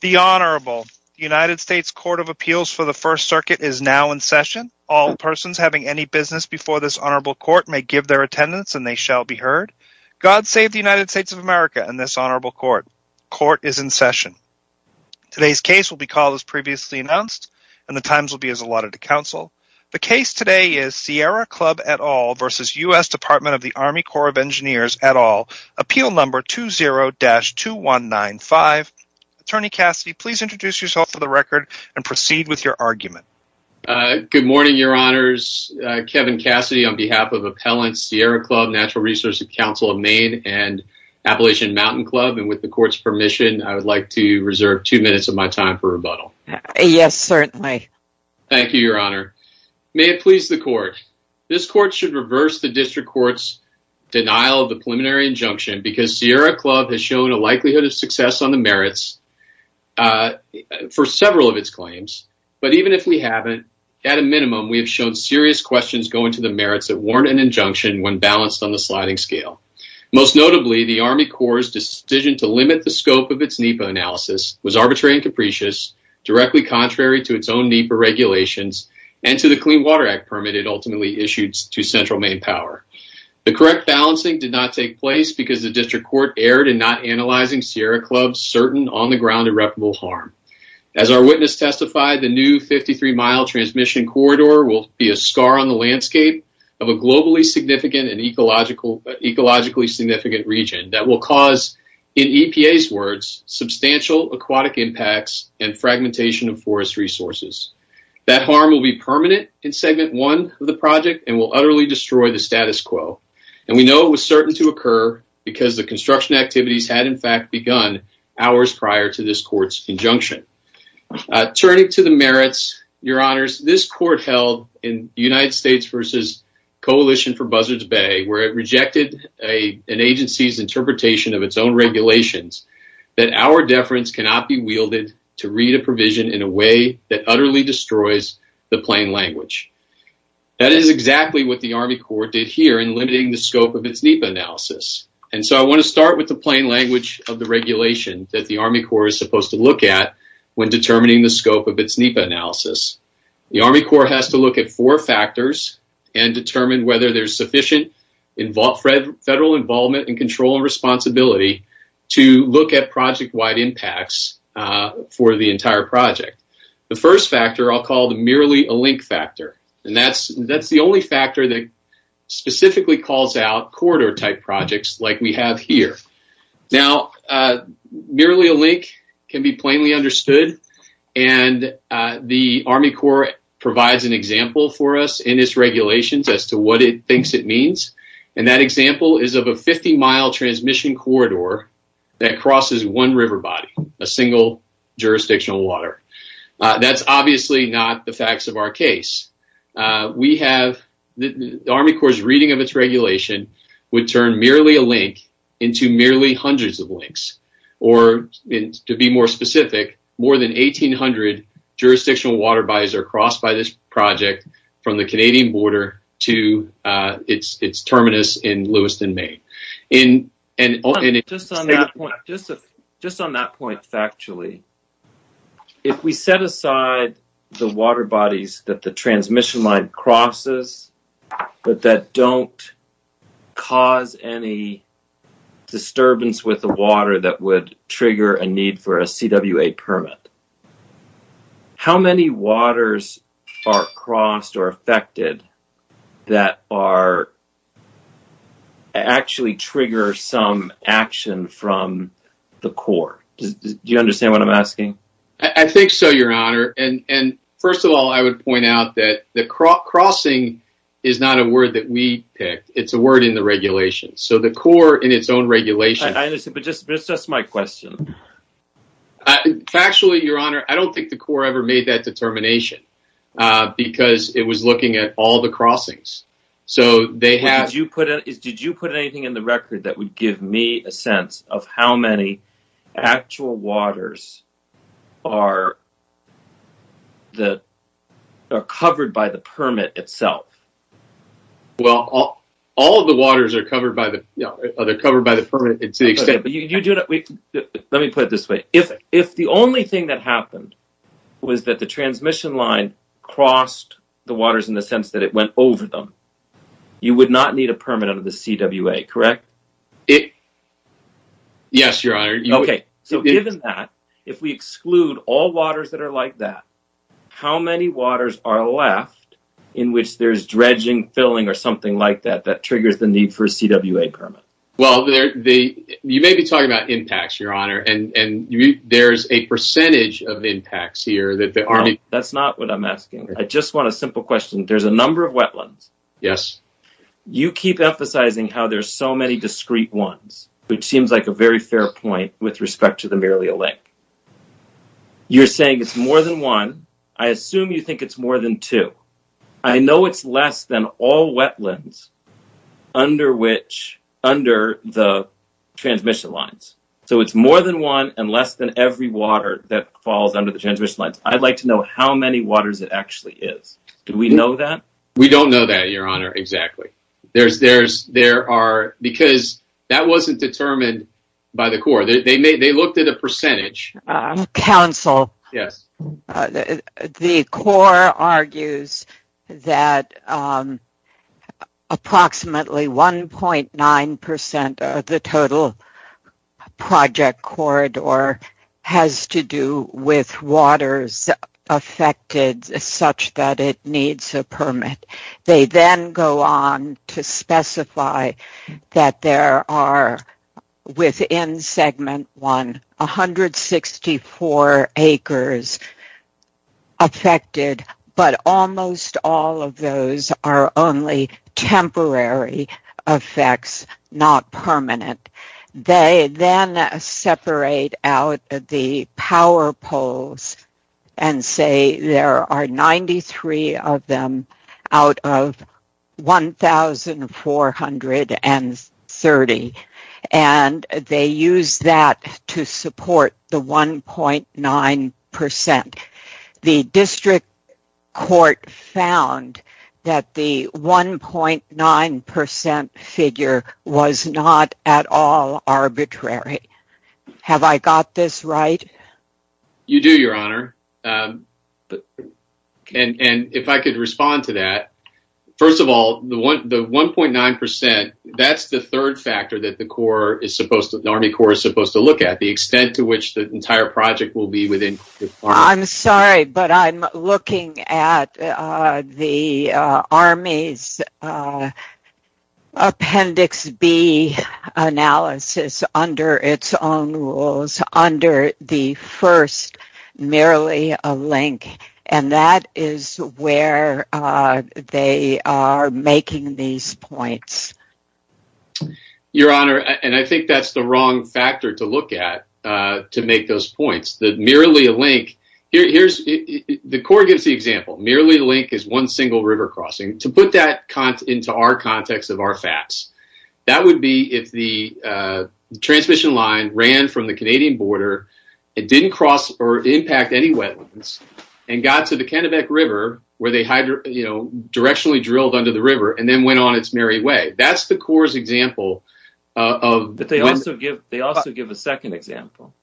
The Honorable United States Court of Appeals for the First Circuit is now in session. All persons having any business before this Honorable Court may give their attendance and they shall be heard. God save the United States of America and this Honorable Court. Court is in session. Today's case will be called as previously announced and the times will be as allotted to counsel. The case today is Sierra Club et al. v. US Dept of the Army Corps of Engineers et al. Appeal number 20-2195. Attorney Cassidy, please introduce yourself for the record and proceed with your argument. Good morning, Your Honors. Kevin Cassidy on behalf of Appellants, Sierra Club, National Research Council of Maine, and Appalachian Mountain Club. And with the Court's permission, I would like to reserve two minutes of my time for rebuttal. Yes, certainly. Thank you, Your Honor. May it please the Court. This Court should reverse the District Court's denial of the preliminary injunction because Sierra Club has shown a likelihood of success on the merits for several of its claims. But even if we haven't, at a minimum, we have shown serious questions going to the merits that warrant an injunction when balanced on the sliding scale. Most notably, the Army Corps' decision to limit the scope of its NEPA analysis was arbitrary and capricious, directly contrary to its own NEPA regulations and to the Clean Water Act permit it ultimately issued to Central Maine Power. The correct balancing did not take place because the District Court erred in not analyzing Sierra Club's certain on-the-ground irreparable harm. As our witness testified, the new 53-mile transmission corridor will be a scar on the landscape of a globally significant and ecologically significant region that will cause, in EPA's words, substantial aquatic impacts and fragmentation of forest resources. That harm will be permanent in Segment 1 of the project and will utterly destroy the status quo. And we know it was certain to occur because the construction activities had, in fact, begun hours prior to this Court's injunction. Turning to the merits, Your Honors, this Court held in United States v. Coalition for Buzzards Bay, where it rejected an agency's interpretation of its own regulations that our deference cannot be wielded to read a provision in a way that utterly destroys the plain language. That is exactly what the Army Corps did here in limiting the scope of its NEPA analysis. And so I want to start with the plain language of the regulation that the Army Corps is supposed to look at when determining the scope of its NEPA analysis. The Army Corps has to look at four factors and determine whether there's sufficient federal involvement and control and responsibility to look at project-wide impacts for the entire project. The first factor I'll call the merely a link factor, and that's the only factor that specifically calls out corridor-type projects like we have here. Now, merely a link can be plainly understood, and the Army Corps provides an example for us in its regulations as to what it thinks it means. And that example is of a 50-mile transmission corridor that crosses one river body, a single jurisdictional water. That's obviously not the facts of our case. The Army Corps' reading of its regulation would turn merely a link into merely hundreds of links, or to be more specific, more than 1,800 jurisdictional water bodies are crossed by this project from the Canadian border to its terminus in Lewiston, Maine. And just on that point factually, if we set aside the water bodies that the transmission line crosses but that don't cause any disturbance with the water that would trigger a need for a CWA permit, how many waters are crossed or affected that actually trigger some action from the Corps? Do you understand what I'm asking? I think so, Your Honor. First of all, I would point out that the crossing is not a word that we picked. It's a word in the regulation. So the Corps in its own regulation… But that's just my question. Factually, Your Honor, I don't think the Corps ever made that determination because it was looking at all the crossings. Did you put anything in the record that would give me a sense of how many actual waters are covered by the permit itself? Well, all of the waters are covered by the permit. Let me put it this way. If the only thing that happened was that the transmission line crossed the waters in the sense that it went over them, you would not need a permit under the CWA, correct? Yes, Your Honor. Okay. So given that, if we exclude all waters that are like that, how many waters are left in which there's dredging, filling, or something like that that triggers the need for a CWA permit? Well, you may be talking about impacts, Your Honor, and there's a percentage of impacts here that aren't… That's not what I'm asking. I just want a simple question. There's a number of wetlands. Yes. You keep emphasizing how there's so many discrete ones, which seems like a very fair point with respect to the Marialea Lake. You're saying it's more than one. I assume you think it's more than two. I know it's less than all wetlands under the transmission lines. So it's more than one and less than every water that falls under the transmission lines. I'd like to know how many waters it actually is. Do we know that? We don't know that, Your Honor, exactly. Because that wasn't determined by the Corps. They looked at a percentage. Counsel, the Corps argues that approximately 1.9% of the total project corridor has to do with waters affected such that it needs a permit. They then go on to specify that there are, within Segment 1, 164 acres affected, but almost all of those are only temporary effects, not permanent. They then separate out the power poles and say there are 93 of them out of 1,430, and they use that to support the 1.9%. The District Court found that the 1.9% figure was not at all arbitrary. Have I got this right? You do, Your Honor. And if I could respond to that. First of all, the 1.9%, that's the third factor that the Army Corps is supposed to look at, the extent to which the entire project will be within... I'm sorry, but I'm looking at the Army's Appendix B analysis under its own rules, under the first, merely a link. And that is where they are making these points. Your Honor, and I think that's the wrong factor to look at to make those points, that merely a link... The Corps gives the example. Merely a link is one single river crossing. To put that into our context of our facts, that would be if the transmission line ran from the Canadian border, it didn't cross or impact any wetlands, and got to the Kennebec River where they directionally drilled under the river and then went on its merry way. That's the Corps' example of... But they also give a second example.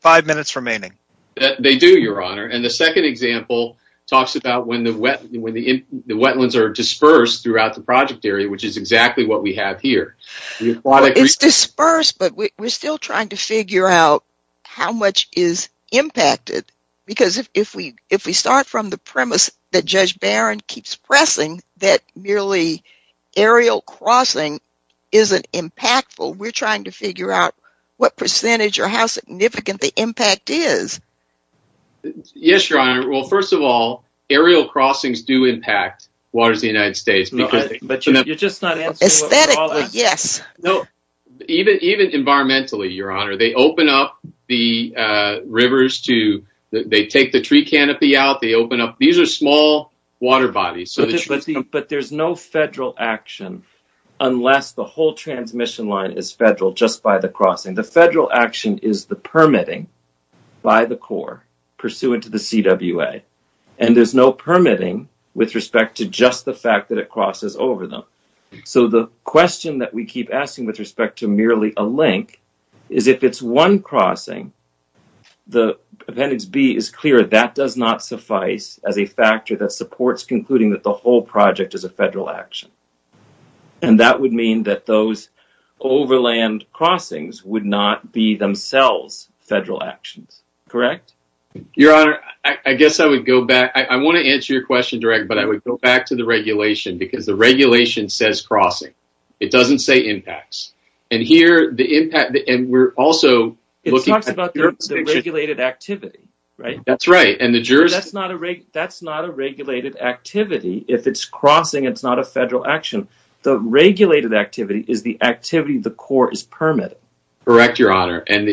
Five minutes remaining. They do, Your Honor. And the second example talks about when the wetlands are dispersed throughout the project area, which is exactly what we have here. It's dispersed, but we're still trying to figure out how much is impacted, because if we start from the premise that Judge Barron keeps pressing that merely aerial crossing isn't impactful, we're trying to figure out what percentage or how significant the impact is. Yes, Your Honor. Well, first of all, aerial crossings do impact waters of the United States. But you're just not answering... Aesthetics, yes. No. Even environmentally, Your Honor. They open up the rivers to... They take the tree canopy out. They open up... These are small water bodies. But there's no federal action unless the whole transmission line is federal just by the crossing. The federal action is the permitting by the Corps pursuant to the CWA. And there's no permitting with respect to just the fact that it crosses over them. So the question that we keep asking with respect to merely a link is if it's one crossing, the Appendix B is clear. That does not suffice as a factor that supports concluding that the whole project is a federal action. And that would mean that those overland crossings would not be themselves federal actions. Correct? Your Honor, I guess I would go back. I want to answer your question direct, but I would go back to the regulation because the regulation says crossing. It doesn't say impacts. And here, the impact... It talks about the regulated activity, right? That's right. That's not a regulated activity. If it's crossing, it's not a federal action. The regulated activity is the activity the Corps is permitting. Correct, Your Honor. And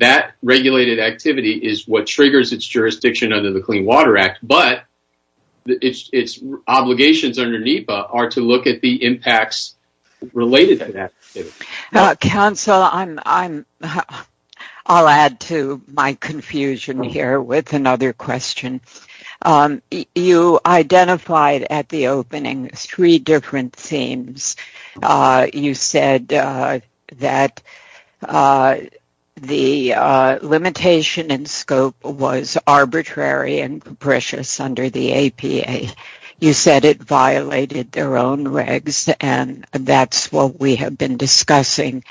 that regulated activity is what triggers its jurisdiction under the Clean Water Act. But its obligations under NEPA are to look at the impacts related to that. Counsel, I'll add to my confusion here with another question. You identified at the opening three different themes. You said that the limitation in scope was arbitrary and precious under the APA. You said it violated their own regs, and that's what we have been discussing,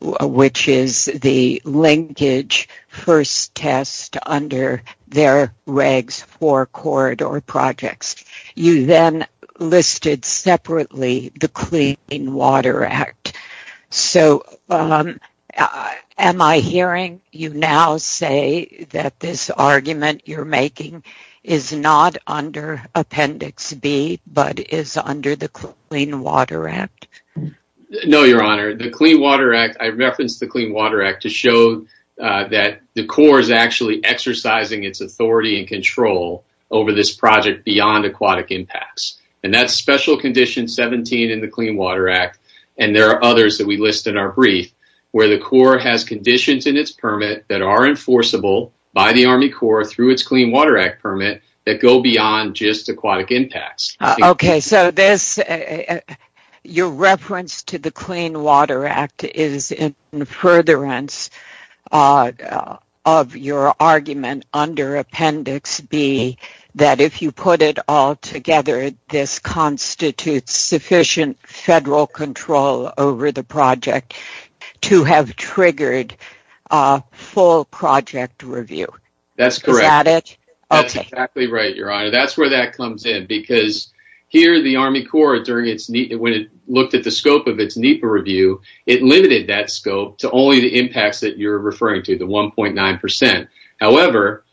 which is the linkage first test under their regs for corridor projects. You then listed separately the Clean Water Act. So am I hearing you now say that this argument you're making is not under Appendix B but is under the Clean Water Act? No, Your Honor. I referenced the Clean Water Act to show that the Corps is actually exercising its authority and control over this project beyond aquatic impacts. And that's Special Condition 17 in the Clean Water Act, and there are others that we list in our brief, where the Corps has conditions in its permit that are enforceable by the Army Corps through its Clean Water Act permit that go beyond just aquatic impacts. Okay. So your reference to the Clean Water Act is in furtherance of your argument under Appendix B that if you put it all together, this constitutes sufficient federal control over the project to have triggered a full project review. That's correct. Okay. That's exactly right, Your Honor. That's where that comes in because here the Army Corps, when it looked at the scope of its NEPA review, it limited that scope to only the impacts that you're referring to, the 1.9%. However,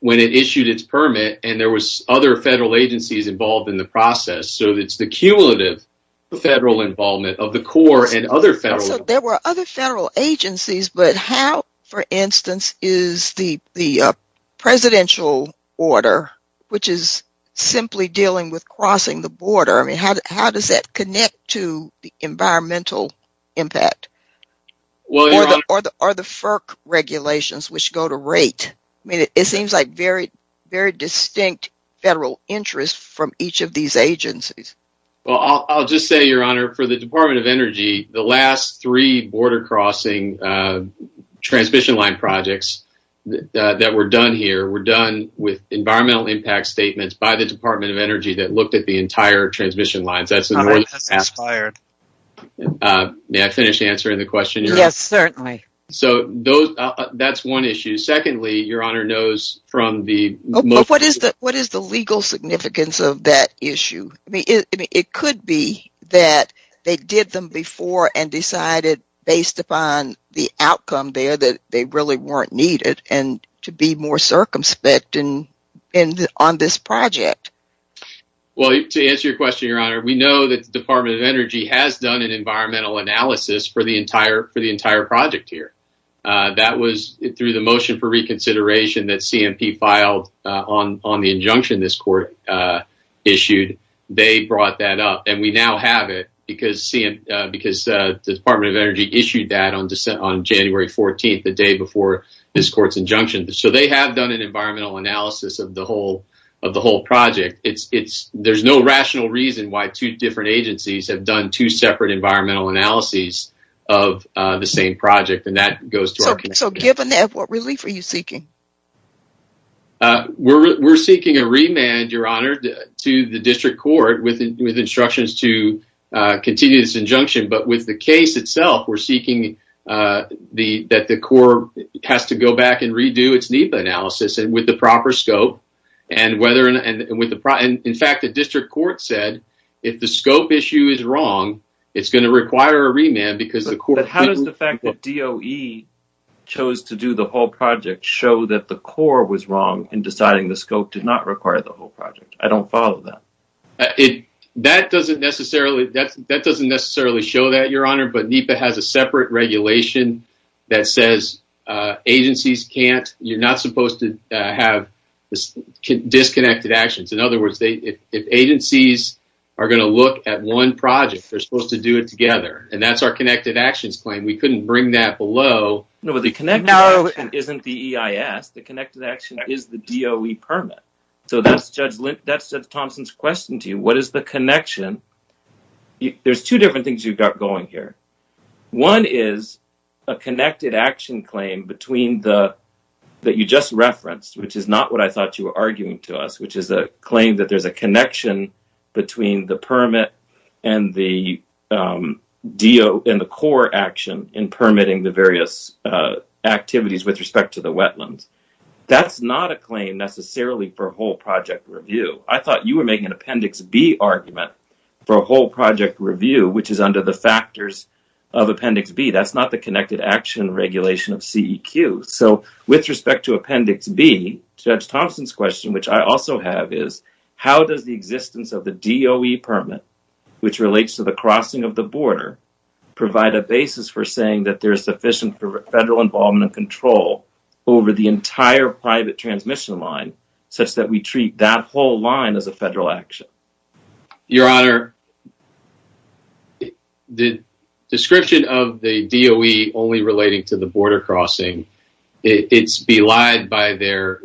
when it issued its permit and there was other federal agencies involved in the process, so it's the cumulative federal involvement of the Corps and other federal agencies. But how, for instance, is the presidential order, which is simply dealing with crossing the border, how does that connect to the environmental impact? Or the FERC regulations, which go to rate? It seems like very distinct federal interests from each of these agencies. Well, I'll just say, Your Honor, for the Department of Energy, the last three border-crossing transmission line projects that were done here were done with environmental impact statements by the Department of Energy that looked at the entire transmission lines. That's the more you can ask. May I finish answering the question? Yes, certainly. So that's one issue. Secondly, Your Honor, those from the- What is the legal significance of that issue? I mean, it could be that they did them before and decided based upon the outcome there that they really weren't needed and to be more circumspect on this project. Well, to answer your question, Your Honor, we know that the Department of Energy has done an environmental analysis for the entire project here. That was through the motion for reconsideration that CMP filed on the injunction this court issued. They brought that up, and we now have it because the Department of Energy issued that on January 14th, the day before this court's injunction. So they have done an environmental analysis of the whole project. There's no rational reason why two different agencies have done two separate environmental analyses of the same project, and that goes to our- So given that, what relief are you seeking? We're seeking a remand, Your Honor, to the district court with instructions to continue this injunction. But with the case itself, we're seeking that the court has to go back and redo its NEPA analysis with the proper scope. In fact, the district court said if the scope issue is wrong, it's going to require a remand because the court- But how does the fact that DOE chose to do the whole project show that the court was wrong in deciding the scope did not require the whole project? I don't follow that. That doesn't necessarily show that, Your Honor, but NEPA has a separate regulation that says agencies can't- you're not supposed to have disconnected actions. In other words, if agencies are going to look at one project, they're supposed to do it together, and that's our connected actions. We couldn't bring that below- No, but the connected action isn't the EIS. The connected action is the DOE permit. So that's Judge Thompson's question to you. What is the connection? There's two different things you've got going here. One is a connected action claim that you just referenced, which is not what I thought you were arguing to us, which is a claim that there's a connection between the permit and the core action in permitting the various activities with respect to the wetland. That's not a claim necessarily for a whole project review. I thought you were making an Appendix B argument for a whole project review, which is under the factors of Appendix B. That's not the connected action regulation of CEQ. So with respect to Appendix B, Judge Thompson's question, which I also have, is how does the existence of the DOE permit, which relates to the crossing of the border, provide a basis for saying that there's sufficient federal involvement and control over the entire private transmission line such that we treat that whole line as a federal action? Your Honor, the description of the DOE only relating to the border crossing, it's belied by their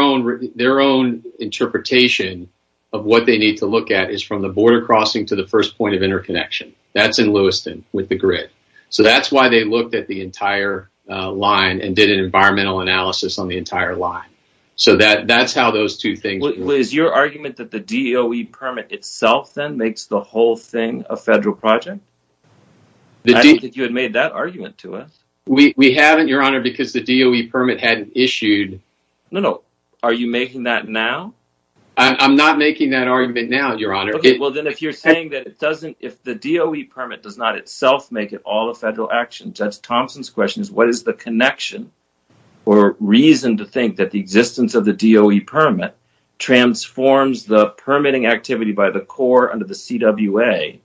own interpretation of what they need to look at is from the border crossing to the first point of interconnection. That's in Lewiston with the grid. So that's why they looked at the entire line and did an environmental analysis on the entire line. So that's how those two things work. Is your argument that the DOE permit itself then makes the whole thing a federal project? I didn't think you had made that argument to us. We haven't, Your Honor, because the DOE permit hadn't issued. No, no. Are you making that now? I'm not making that argument now, Your Honor. Okay. Well, then if you're saying that if the DOE permit does not itself make it all a federal action, Judge Thompson's question is what is the connection or reason to think that the existence of the DOE permit transforms the permitting activity by the Corps under the CWA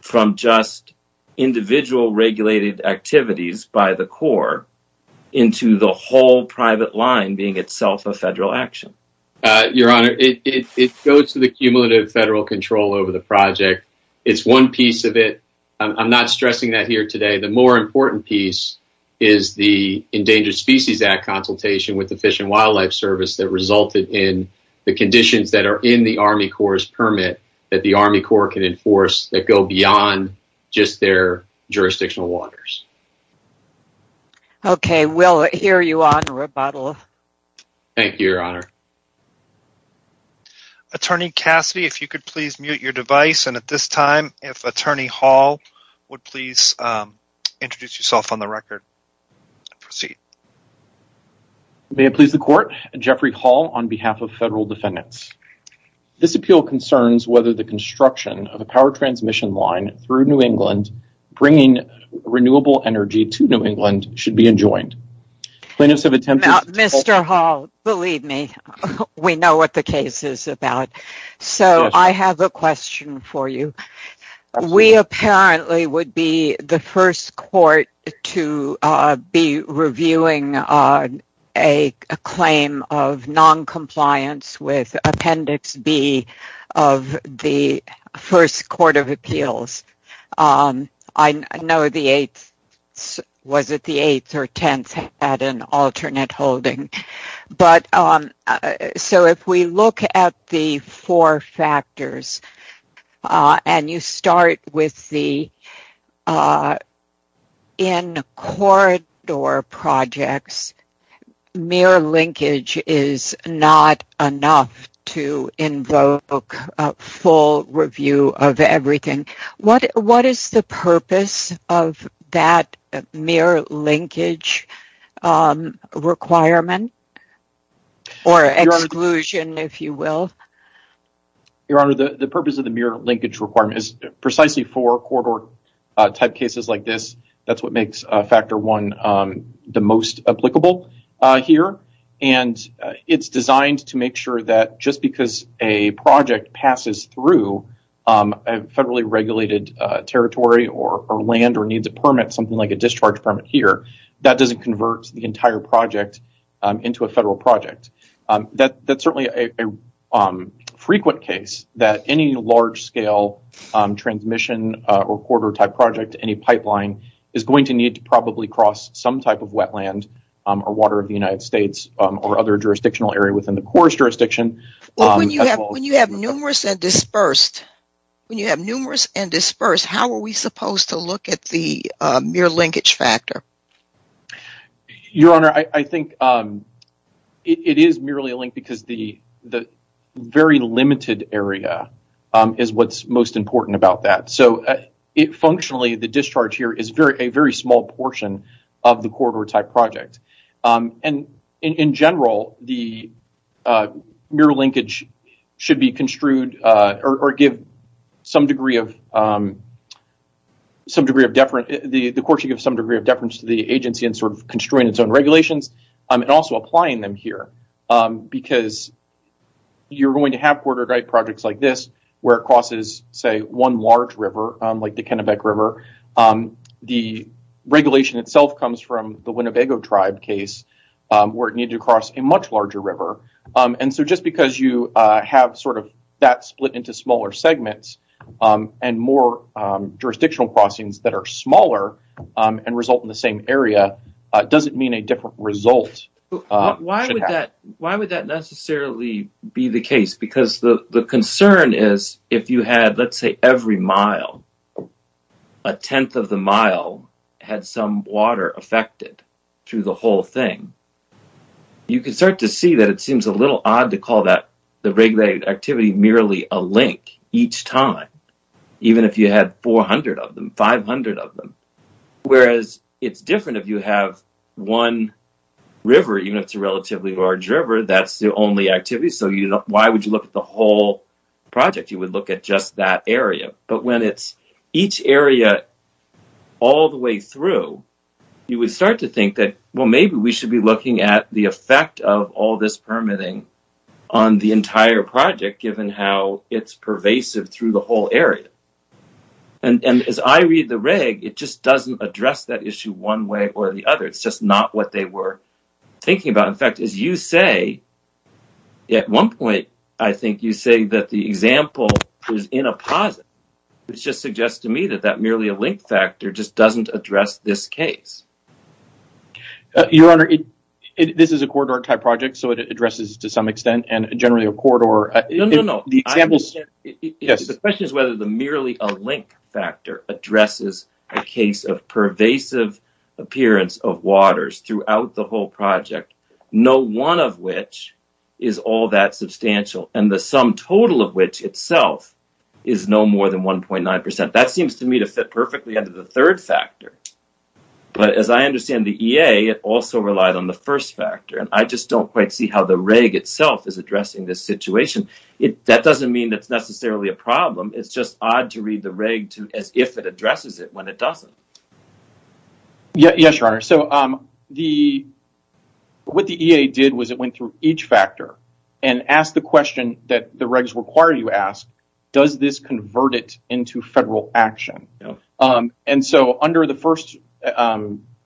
from just individual regulated activities by the Corps into the whole private line being itself a federal action? Your Honor, it goes to the cumulative federal control over the project. It's one piece of it. I'm not stressing that here today. The more important piece is the Endangered Species Act consultation with the Fish and Wildlife Service that resulted in the conditions that are in the Army Corps' permit that the Army Corps can enforce that go beyond just their jurisdictional waters. Okay. We'll hear you on rebuttal. Thank you, Your Honor. Attorney Cassidy, if you could please mute your device, and at this time if Attorney Hall would please introduce yourself on the record. Proceed. May it please the Court. Jeffrey Hall on behalf of federal defendants. This appeal concerns whether the construction of a power transmission line through New England bringing renewable energy to New England should be enjoined. Now, Mr. Hall, believe me, we know what the case is about. So I have a question for you. We apparently would be the first court to be reviewing a claim of noncompliance with Appendix B of the first court of appeals. I know the 8th or 10th had an alternate holding. So if we look at the four factors, and you start with the in-corridor projects, mere linkage is not enough to invoke a full review of everything. What is the purpose of that mere linkage requirement, or exclusion, if you will? Your Honor, the purpose of the mere linkage requirement is precisely for corridor-type cases like this. That's what makes Factor I the most applicable here. And it's designed to make sure that just because a project passes through a federally regulated territory or land or needs a permit, something like a discharge permit here, that doesn't convert the entire project into a federal project. That's certainly a frequent case that any large-scale transmission or corridor-type project, any pipeline, is going to need to probably cross some type of wetland or water of the United States or other jurisdictional area within the court's jurisdiction. When you have numerous and dispersed, how are we supposed to look at the mere linkage factor? Your Honor, I think it is merely a link because the very limited area is what's most important about that. Functionally, the discharge here is a very small portion of the corridor-type project. In general, the mere linkage should give some degree of deference to the agency in sort of construing its own regulations and also applying them here because you're going to have corridor-type projects like this where it crosses, say, one large river like the Kennebec River. The regulation itself comes from the Winnebago Tribe case where it needs to cross a much larger river. And so just because you have sort of that split into smaller segments and more jurisdictional crossings that are smaller and result in the same area doesn't mean a different result. Why would that necessarily be the case? Because the concern is if you had, let's say, every mile, a tenth of the mile had some water affected through the whole thing, you can start to see that it seems a little odd to call the regulated activity merely a link each time, even if you had 400 of them, 500 of them. Whereas it's different if you have one river, even if it's a relatively large river, that's the only activity, so why would you look at the whole project? You would look at just that area. But when it's each area all the way through, you would start to think that, well, maybe we should be looking at the effect of all this permitting on the entire project given how it's pervasive through the whole area. And as I read the reg, it just doesn't address that issue one way or the other. It's just not what they were thinking about. In fact, as you say, at one point I think you say that the example is in a positive. It just suggests to me that that merely a link factor just doesn't address this case. Your Honor, this is a corridor type project, so it addresses to some extent and generally a corridor. No, no, no. The question is whether the merely a link factor addresses a case of pervasive appearance of waters throughout the whole project, no one of which is all that substantial and the sum total of which itself is no more than 1.9%. That seems to me to fit perfectly under the third factor. But as I understand the EA, it also relied on the first factor. And I just don't quite see how the reg itself is addressing this situation. That doesn't mean it's necessarily a problem. It's just odd to read the reg as if it addresses it when it doesn't. Yes, Your Honor. So what the EA did was it went through each factor and asked the question that the regs require you ask, does this convert it into federal action? And so under the first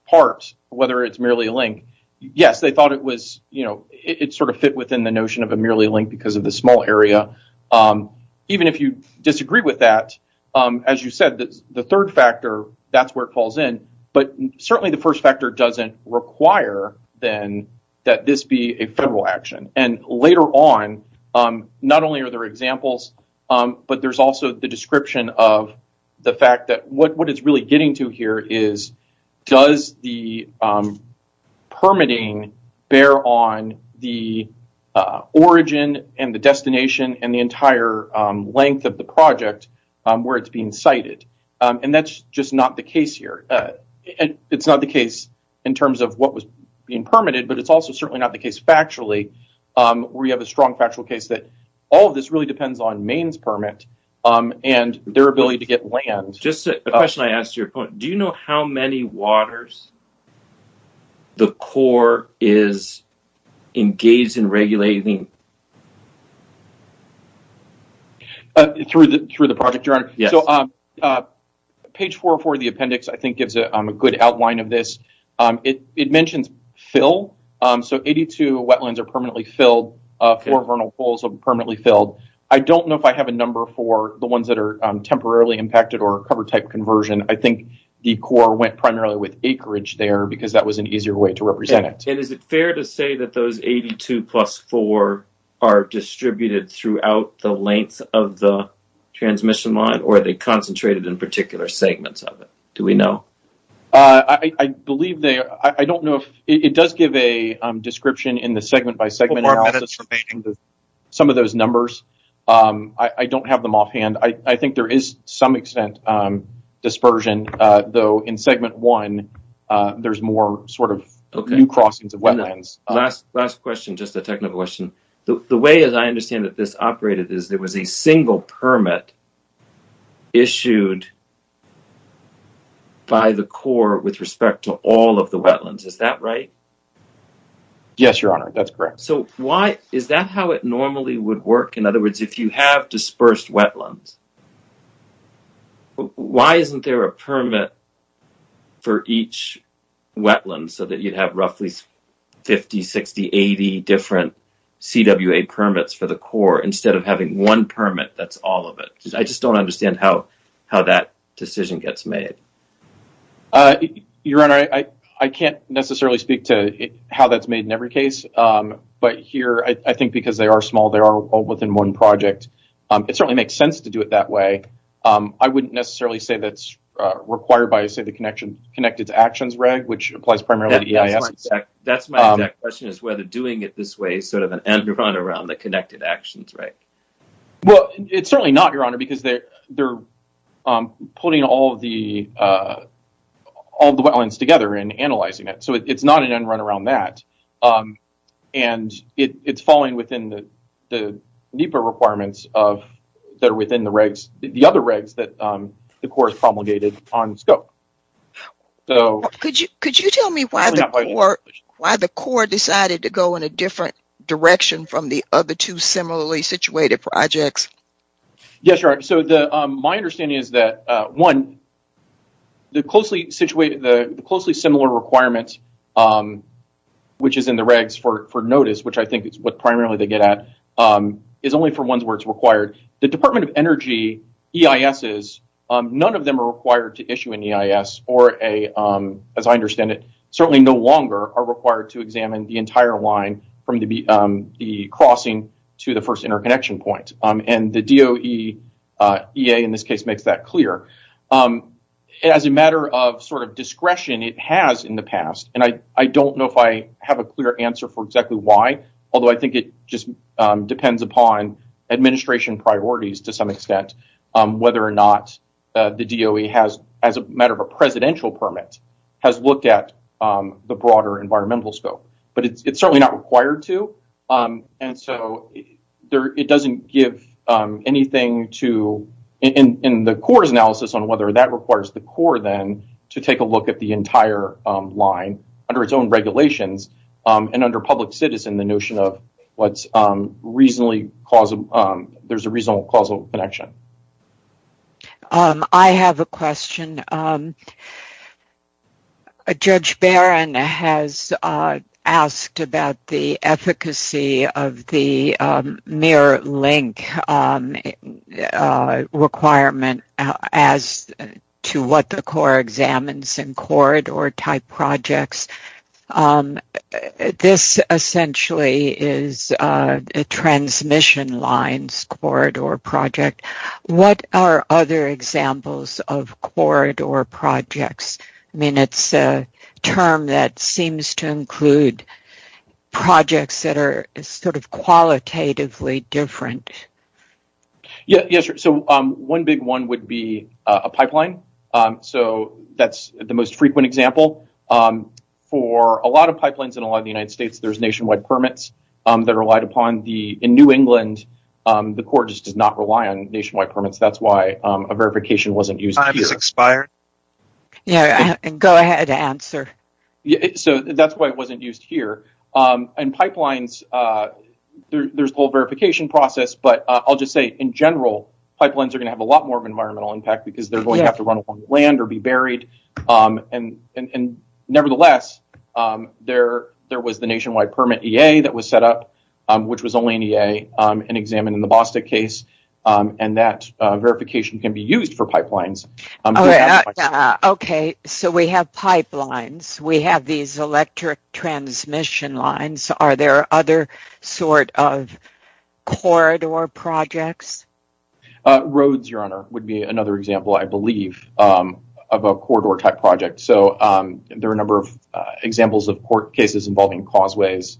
part, whether it's merely a link, yes, they thought it sort of fit within the notion of a merely a link because of the small area. Even if you disagree with that, as you said, the third factor, that's where it falls in. But certainly the first factor doesn't require then that this be a federal action. And later on, not only are there examples, but there's also the description of the fact that what it's really getting to here is does the permitting bear on the origin and the destination and the entire length of the project where it's being cited? And that's just not the case here. It's not the case in terms of what was being permitted, but it's also certainly not the case factually. We have a strong factual case that all of this really depends on Maine's permit and their ability to get land. The question I asked to your point, do you know how many waters the Corps is engaged in regulating? Through the project director? Page 404 of the appendix, I think, gives a good outline of this. It mentions fill. So 82 wetlands are permanently filled. Four Vernal Falls are permanently filled. I don't know if I have a number for the ones that are temporarily impacted or cover type conversion. I think the Corps went primarily with acreage there because that was an easier way to represent it. And is it fair to say that those 82 plus four are distributed throughout the length of the transmission line or are they concentrated in particular segments of it? Do we know? I believe they are. I don't know. It does give a description in the segment by segment of some of those numbers. I don't have them offhand. I think there is some extent dispersion, though in segment one, there's more sort of few crossings of wetlands. Last question, just a technical question. The way I understand that this operated is there was a single permit issued by the Corps with respect to all of the wetlands. Is that right? Yes, Your Honor. That's correct. Is that how it normally would work? In other words, if you have dispersed wetlands, why isn't there a permit for each wetland so that you'd have roughly 50, 60, 80 different CWA permits for the Corps instead of having one permit that's all of it? I just don't understand how that decision gets made. Your Honor, I can't necessarily speak to how that's made in every case. But here, I think because they are small, they are all within one project. It certainly makes sense to do it that way. I wouldn't necessarily say that's required by, say, the Connected Actions Reg, which applies primarily to EIS. That's my next question, is whether doing it this way is sort of an end-run around the Connected Actions Reg. Well, it's certainly not, Your Honor, because they're putting all the wetlands together and analyzing it. So it's not an end-run around that. And it's falling within the NEPA requirements that are within the other regs that the Corps has promulgated on scope. Could you tell me why the Corps decided to go in a different direction from the other two similarly situated projects? Yes, Your Honor. So my understanding is that, one, the closely similar requirements, which is in the regs for notice, which I think is what primarily they get at, is only for ones where it's required. The Department of Energy EISs, none of them are required to issue an EIS or, as I understand it, certainly no longer are required to examine the entire line from the crossing to the first interconnection point. And the DOE EA, in this case, makes that clear. As a matter of sort of discretion, it has in the past. And I don't know if I have a clear answer for exactly why, although I think it just depends upon administration priorities, to some extent, whether or not the DOE has, as a matter of a presidential permit, has looked at the broader environmental scope. But it's certainly not required to. And so it doesn't give anything to, in the Corps' analysis, on whether that requires the Corps then to take a look at the entire line under its own regulations and under public citizen, the notion of what's reasonably, there's a reasonable causal connection. I have a question. Judge Barron has asked about the efficacy of the mirror link requirement as to what the Corps examines in corridor-type projects. This essentially is a transmission lines corridor project. What are other examples of corridor projects? I mean, it's a term that seems to include projects that are sort of qualitatively different. Yeah, so one big one would be a pipeline. So that's the most frequent example. For a lot of pipelines in a lot of the United States, there's nationwide permits that are relied upon. In New England, the Corps just does not rely on nationwide permits. That's why a verification wasn't used here. Time has expired. Go ahead and answer. So that's why it wasn't used here. And pipelines, there's a whole verification process. But I'll just say, in general, pipelines are going to have a lot more of environmental impact because they're going to have to run along the land or be buried. And nevertheless, there was the nationwide permit EA that was set up, which was only an EA, and examined in the Boston case. And that verification can be used for pipelines. Okay, so we have pipelines. We have these electric transmission lines. Are there other sort of corridor projects? Roads, Your Honor, would be another example, I believe, of a corridor type project. So there are a number of examples of court cases involving causeways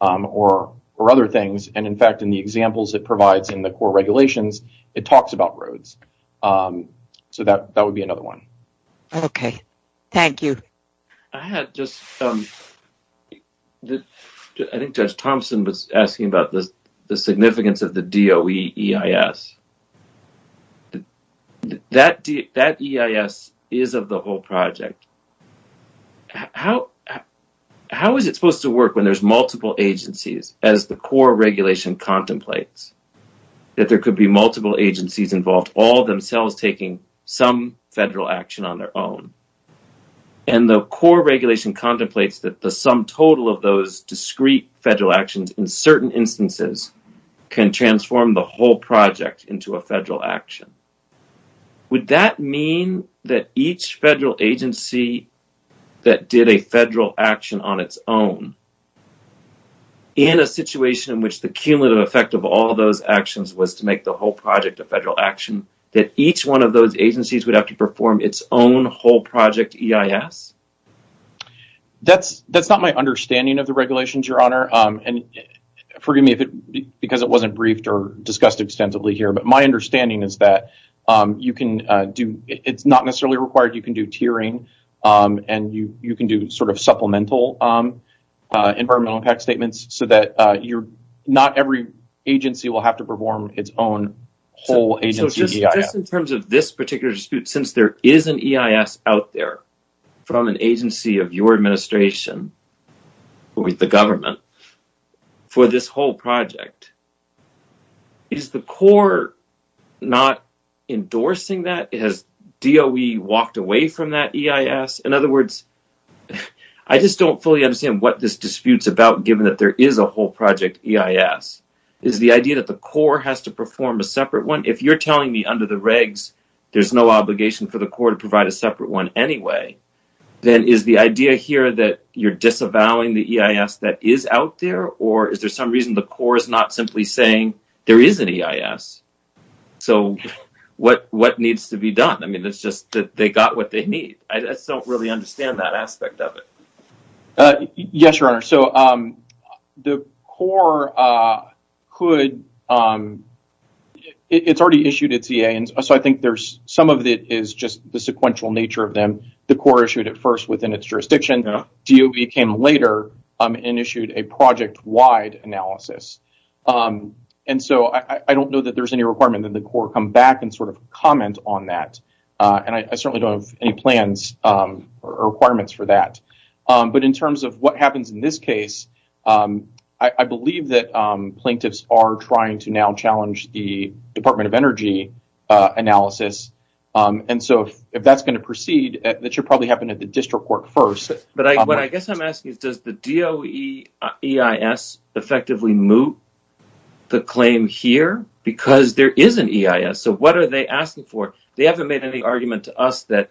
or other things. And in fact, in the examples it provides in the Corps regulations, it talks about roads. So that would be another one. Okay, thank you. I had just some – I think Judge Thompson was asking about the significance of the DOE EIS. That EIS is of the whole project. How is it supposed to work when there's multiple agencies, as the Corps regulation contemplates, if there could be multiple agencies involved, all themselves taking some federal action on their own? And the Corps regulation contemplates that the sum total of those discrete federal actions in certain instances can transform the whole project into a federal action. Would that mean that each federal agency that did a federal action on its own, in a situation in which the cumulative effect of all those actions was to make the whole project a federal action, that each one of those agencies would have to perform its own whole project EIS? That's not my understanding of the regulations, Your Honor. And forgive me because it wasn't briefed or discussed extensively here, but my understanding is that you can do – it's not necessarily required. You can do tiering and you can do sort of supplemental environmental impact statements so that you're – not every agency will have to perform its own whole agency EIS. So just in terms of this particular dispute, since there is an EIS out there from an agency of your administration, who is the government, for this whole project, is the Corps not endorsing that? Has DOE walked away from that EIS? In other words, I just don't fully understand what this dispute's about, given that there is a whole project EIS. Is the idea that the Corps has to perform a separate one? If you're telling me under the regs there's no obligation for the Corps to provide a separate one anyway, then is the idea here that you're disavowing the EIS that is out there, or is there some reason the Corps is not simply saying there is an EIS? So what needs to be done? I mean, it's just that they got what they need. I just don't really understand that aspect of it. Yes, Your Honor. So the Corps could – it's already issued its EA, and so I think there's – some of it is just the sequential nature of them. The Corps issued it first within its jurisdiction. DOE came later and issued a project-wide analysis. And so I don't know that there's any requirement that the Corps come back and sort of comment on that. And I certainly don't have any plans or requirements for that. But in terms of what happens in this case, I believe that plaintiffs are trying to now challenge the Department of Energy analysis. And so if that's going to proceed, that should probably happen at the district court first. But I guess I'm asking, does the DOE EIS effectively move the claim here? Because there is an EIS, so what are they asking for? They haven't made any argument to us that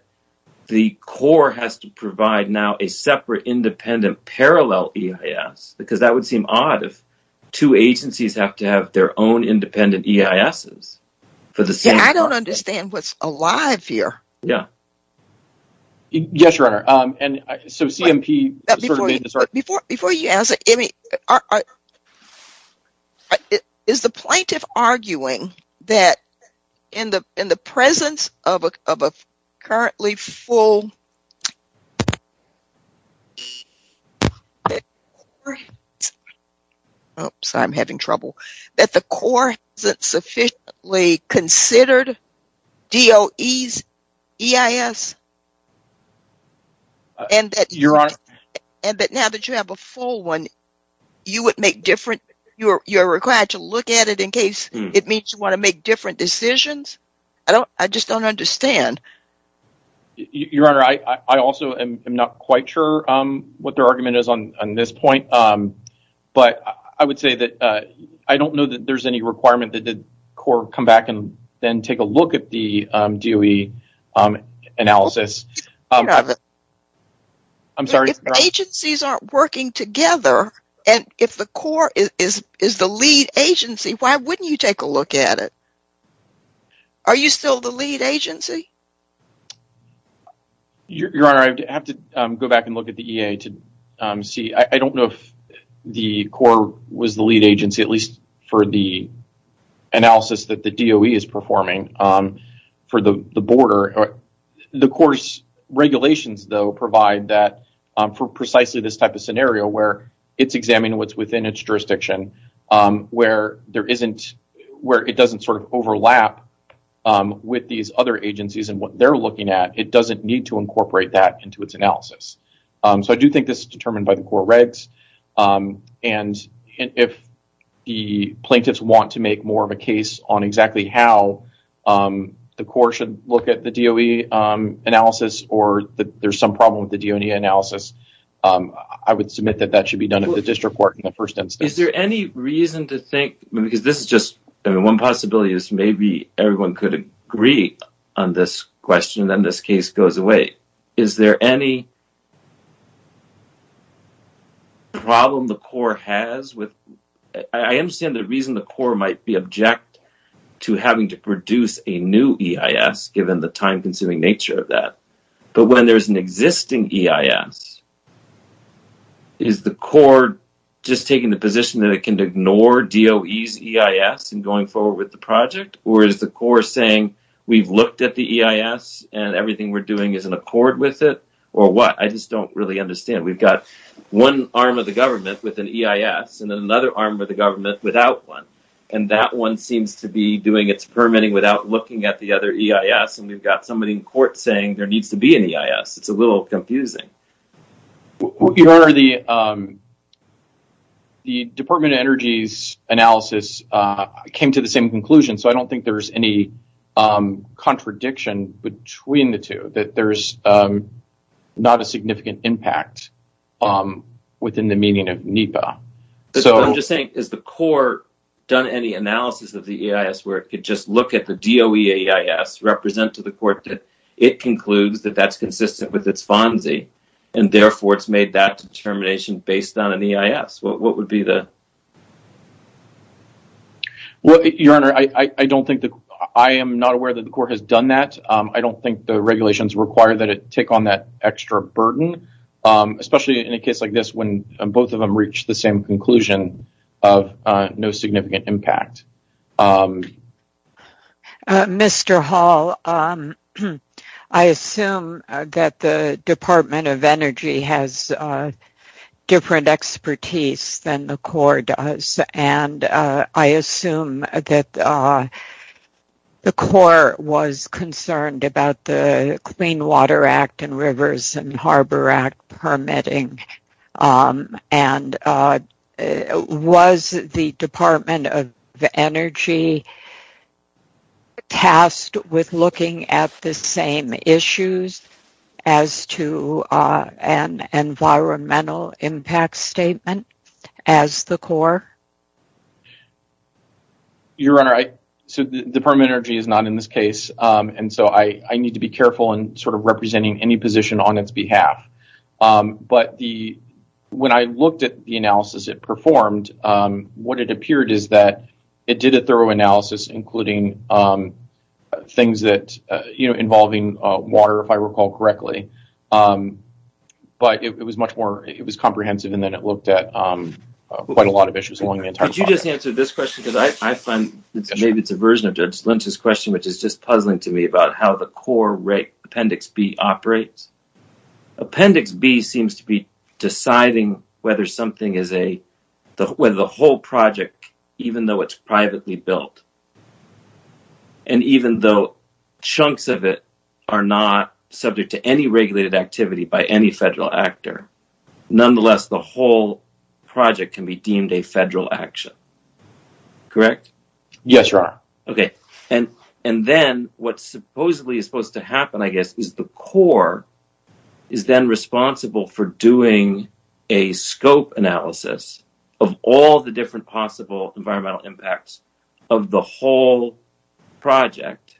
the Corps has to provide now a separate independent parallel EIS, because that would seem odd if two agencies have to have their own independent EISs. I don't understand what's alive here. Yes, Your Honor. Before you answer, is the plaintiff arguing that in the presence of a currently full Oops, I'm having trouble. That the Corps isn't sufficiently considered DOE's EIS? Your Honor. And that now that you have a full one, you're required to look at it in case it means you want to make different decisions? I just don't understand. Your Honor, I also am not quite sure what their argument is on this point. But I would say that I don't know that there's any requirement that the Corps come back and then take a look at the DOE analysis. Your Honor. I'm sorry? If the agencies aren't working together, and if the Corps is the lead agency, why wouldn't you take a look at it? Are you still the lead agency? Your Honor, I'd have to go back and look at the EA to see. I don't know if the Corps was the lead agency, at least for the analysis that the DOE is performing for the border. The Corps' regulations, though, provide that for precisely this type of scenario where it's examining what's within its jurisdiction, where it doesn't sort of overlap with these other agencies and what they're looking at. It doesn't need to incorporate that into its analysis. So I do think this is determined by the Corps regs. And if the plaintiffs want to make more of a case on exactly how the Corps should look at the DOE analysis or that there's some problem with the DOE analysis, I would submit that that should be done at the district court in the first instance. Is there any reason to think, because this is just, I mean, one possibility is maybe everyone could agree on this question, then this case goes away. Is there any problem the Corps has with, I understand the reason the Corps might be object to having to produce a new EIS, given the time-consuming nature of that. But when there's an existing EIS, is the Corps just taking the position that it can ignore DOE's EIS in going forward with the project? Or is the Corps saying we've looked at the EIS and everything we're doing is in accord with it? Or what? I just don't really understand. We've got one arm of the government with an EIS and then another arm of the government without one. And that one seems to be doing its permitting without looking at the other EIS, and we've got somebody in court saying there needs to be an EIS. It's a little confusing. Your Honor, the Department of Energy's analysis came to the same conclusion, so I don't think there's any contradiction between the two, that there's not a significant impact within the meaning of NEPA. I'm just saying, has the Corps done any analysis of the EIS where it could just look at the DOE EIS, represent to the Court that it concludes that that's consistent with its fondness, and therefore it's made that determination based on an EIS? What would be the... Your Honor, I am not aware that the Corps has done that. I don't think the regulations require that it take on that extra burden, especially in a case like this when both of them reach the same conclusion of no significant impact. Mr. Hall, I assume that the Department of Energy has different expertise than the Corps does, and I assume that the Corps was concerned about the Clean Water Act and Rivers and Harbor Act permitting, and was the Department of Energy tasked with looking at the same issues as to an environmental impact statement as the Corps? Your Honor, the Department of Energy is not in this case, and so I need to be careful in sort of representing any position on its behalf. But when I looked at the analysis it performed, what it appeared is that it did a thorough analysis, including things involving water, if I recall correctly. But it was much more... It was comprehensive, and then it looked at quite a lot of issues along the entire... Could you just answer this question? Because I find maybe it's a version of Judge Lim's question, which is just puzzling to me about how the Corps Appendix B operates. Appendix B seems to be deciding whether something is a... even though it's privately built, and even though chunks of it are not subject to any regulated activity by any federal actor, nonetheless the whole project can be deemed a federal action. Correct? Yes, Your Honor. Okay. And then what supposedly is supposed to happen, I guess, is the Corps is then responsible for doing a scope analysis of all the different possible environmental impacts of the whole project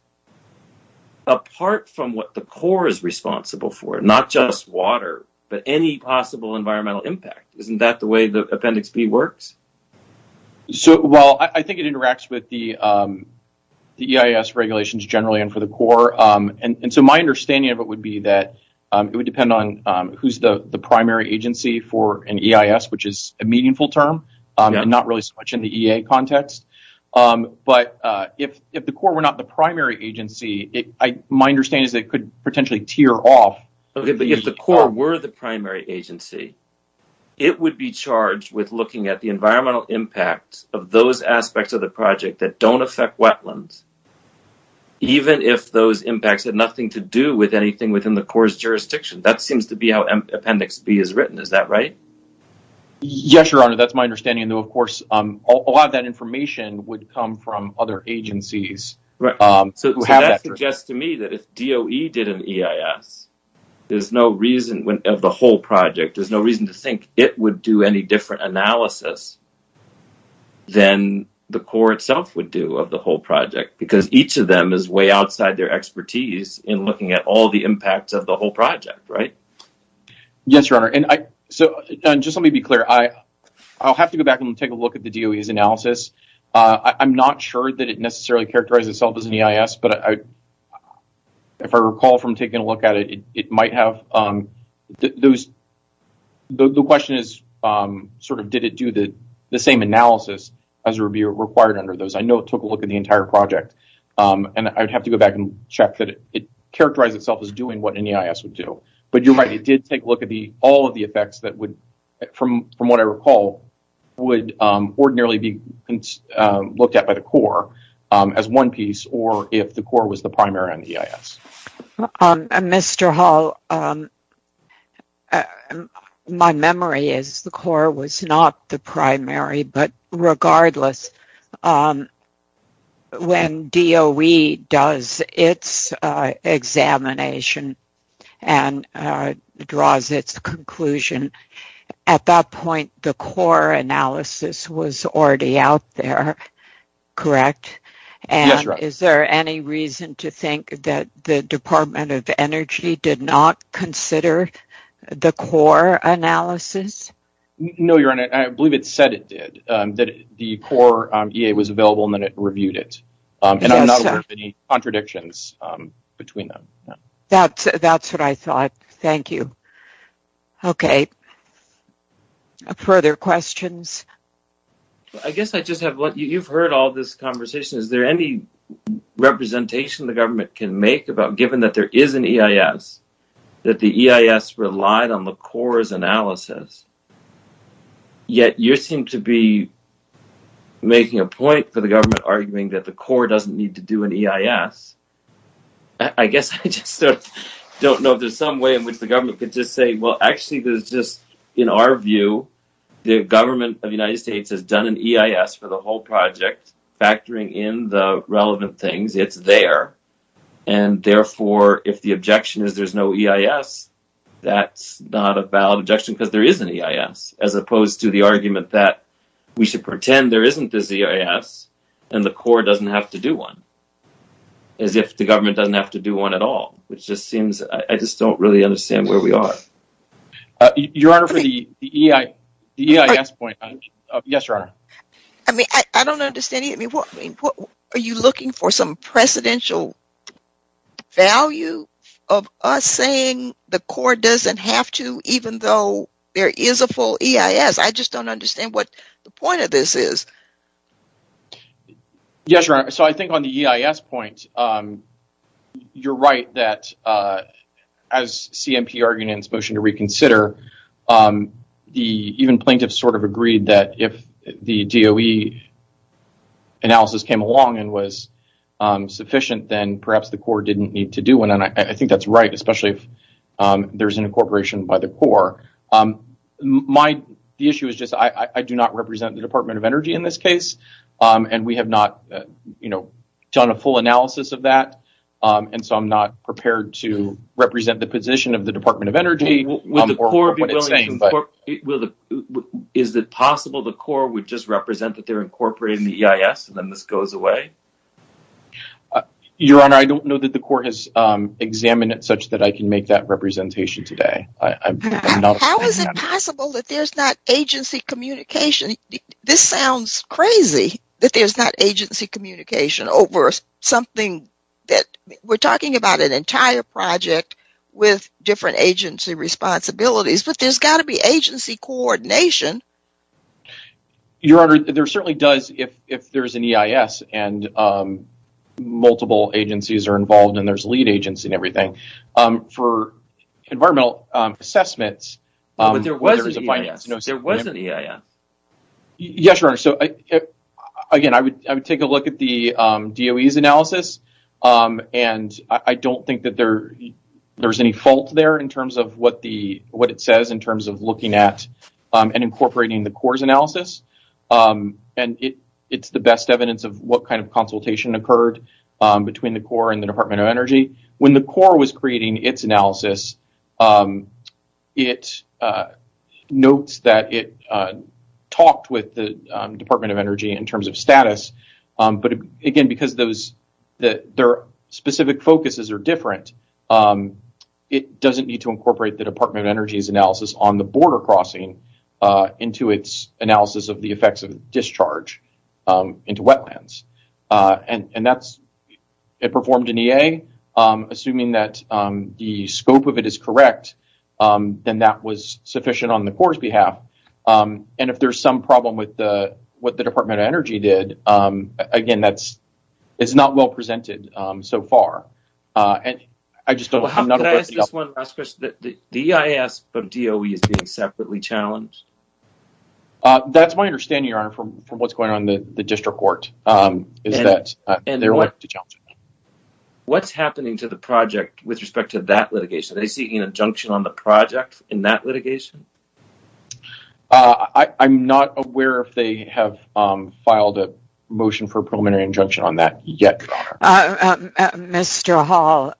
apart from what the Corps is responsible for, not just water, but any possible environmental impact. Isn't that the way the Appendix B works? Well, I think it interacts with the EIS regulations generally and for the Corps. And so my understanding of it would be that it would depend on who's the primary agency for an EIS, which is a meaningful term and not really so much in the EA context. But if the Corps were not the primary agency, my understanding is that it could potentially tear off... If the Corps were the primary agency, it would be charged with looking at the environmental impact of those aspects of the project that don't affect wetlands, even if those impacts had nothing to do with anything within the Corps' jurisdiction. That seems to be how Appendix B is written. Is that right? Yes, Your Honor. That's my understanding. Of course, a lot of that information would come from other agencies. So that suggests to me that if DOE did an EIS, there's no reason of the whole project, there's no reason to think it would do any different analysis than the Corps itself would do of the whole project because each of them is way outside their expertise in looking at all the impacts of the whole project, right? Yes, Your Honor. So just let me be clear. I'll have to go back and take a look at the DOE's analysis. I'm not sure that it necessarily characterized itself as an EIS, but if I recall from taking a look at it, it might have... The question is sort of did it do the same analysis as would be required under those. I know it took a look at the entire project, and I'd have to go back and check that it characterized itself as doing what an EIS would do. But you're right, it did take a look at all of the effects that would, from what I recall, would ordinarily be looked at by the Corps as one piece or if the Corps was the primary on the EIS. Mr. Hall, my memory is the Corps was not the primary, but regardless, when DOE does its examination and draws its conclusion, at that point, the Corps analysis was already out there, correct? Yes, Your Honor. And is there any reason to think that the Department of Energy did not consider the Corps analysis? No, Your Honor. I believe it said it did, that the Corps EA was available and then it reviewed it. And I'm not aware of any contradictions between them. That's what I thought. Thank you. Okay. Further questions? I guess I just have one. You've heard all this conversation. Is there any representation the government can make about given that there is an EIS, that the EIS relied on the Corps' analysis, yet you seem to be making a point for the government arguing that the Corps doesn't need to do an EIS. I guess I just don't know if there's some way in which the government could just say, well, actually, there's just, in our view, the government of the United States has done an EIS for the whole project, factoring in the relevant things. It's there. And therefore, if the objection is there's no EIS, that's not a valid objection because there is an EIS, as opposed to the argument that we should pretend there isn't this EIS and the Corps doesn't have to do one. As if the government doesn't have to do one at all, which just seems, I just don't really understand where we are. Your Honor, for the EIS point. Yes, Your Honor. I don't understand. Are you looking for some precedential value of us saying the Corps doesn't have to, even though there is a full EIS? I just don't understand what the point of this is. Yes, Your Honor. So I think on the EIS point, you're right that as CMP arguments motion to reconsider, even plaintiffs sort of agreed that if the DOE analysis came along and was sufficient, then perhaps the Corps didn't need to do one. And I think that's right, especially if there's an incorporation by the Corps. The issue is just, I do not represent the Department of Energy in this case, and we have not done a full analysis of that. And so I'm not prepared to represent the position of the Department of Energy. Is it possible the Corps would just represent that they're incorporated in the EIS, and then this goes away? Your Honor, I don't know that the Corps has examined it such that I can make that representation today. How is it possible that there's not agency communication? This sounds crazy that there's not agency communication over something that, we're talking about an entire project with different agency responsibilities, but there's got to be agency coordination. Your Honor, there certainly does if there's an EIS and multiple agencies are involved and there's lead agency and everything. For environmental assessments- But there was an EIS. There was an EIS. Yes, Your Honor. Again, I would take a look at the DOE's analysis, and I don't think that there's any fault there in terms of what it says in terms of looking at and incorporating the Corps' analysis. And it's the best evidence of what kind of consultation occurred between the Corps and the Department of Energy. When the Corps was creating its analysis, it notes that it talked with the Department of Energy in terms of status, but again, because their specific focuses are different, it doesn't need to incorporate the Department of Energy's analysis on the border crossing into its analysis of the effects of discharge into wetlands. It performed an EA, assuming that the scope of it is correct, then that was sufficient on the Corps' behalf. And if there's some problem with what the Department of Energy did, again, it's not well presented so far. The EIS of DOE is being separately challenged? That's my understanding, Your Honor, from what's going on in the district court. And what's happening to the project with respect to that litigation? Are they seeking injunction on the project in that litigation? I'm not aware if they have filed a motion for a permanent injunction on that yet, Your Honor. Mr. Hall,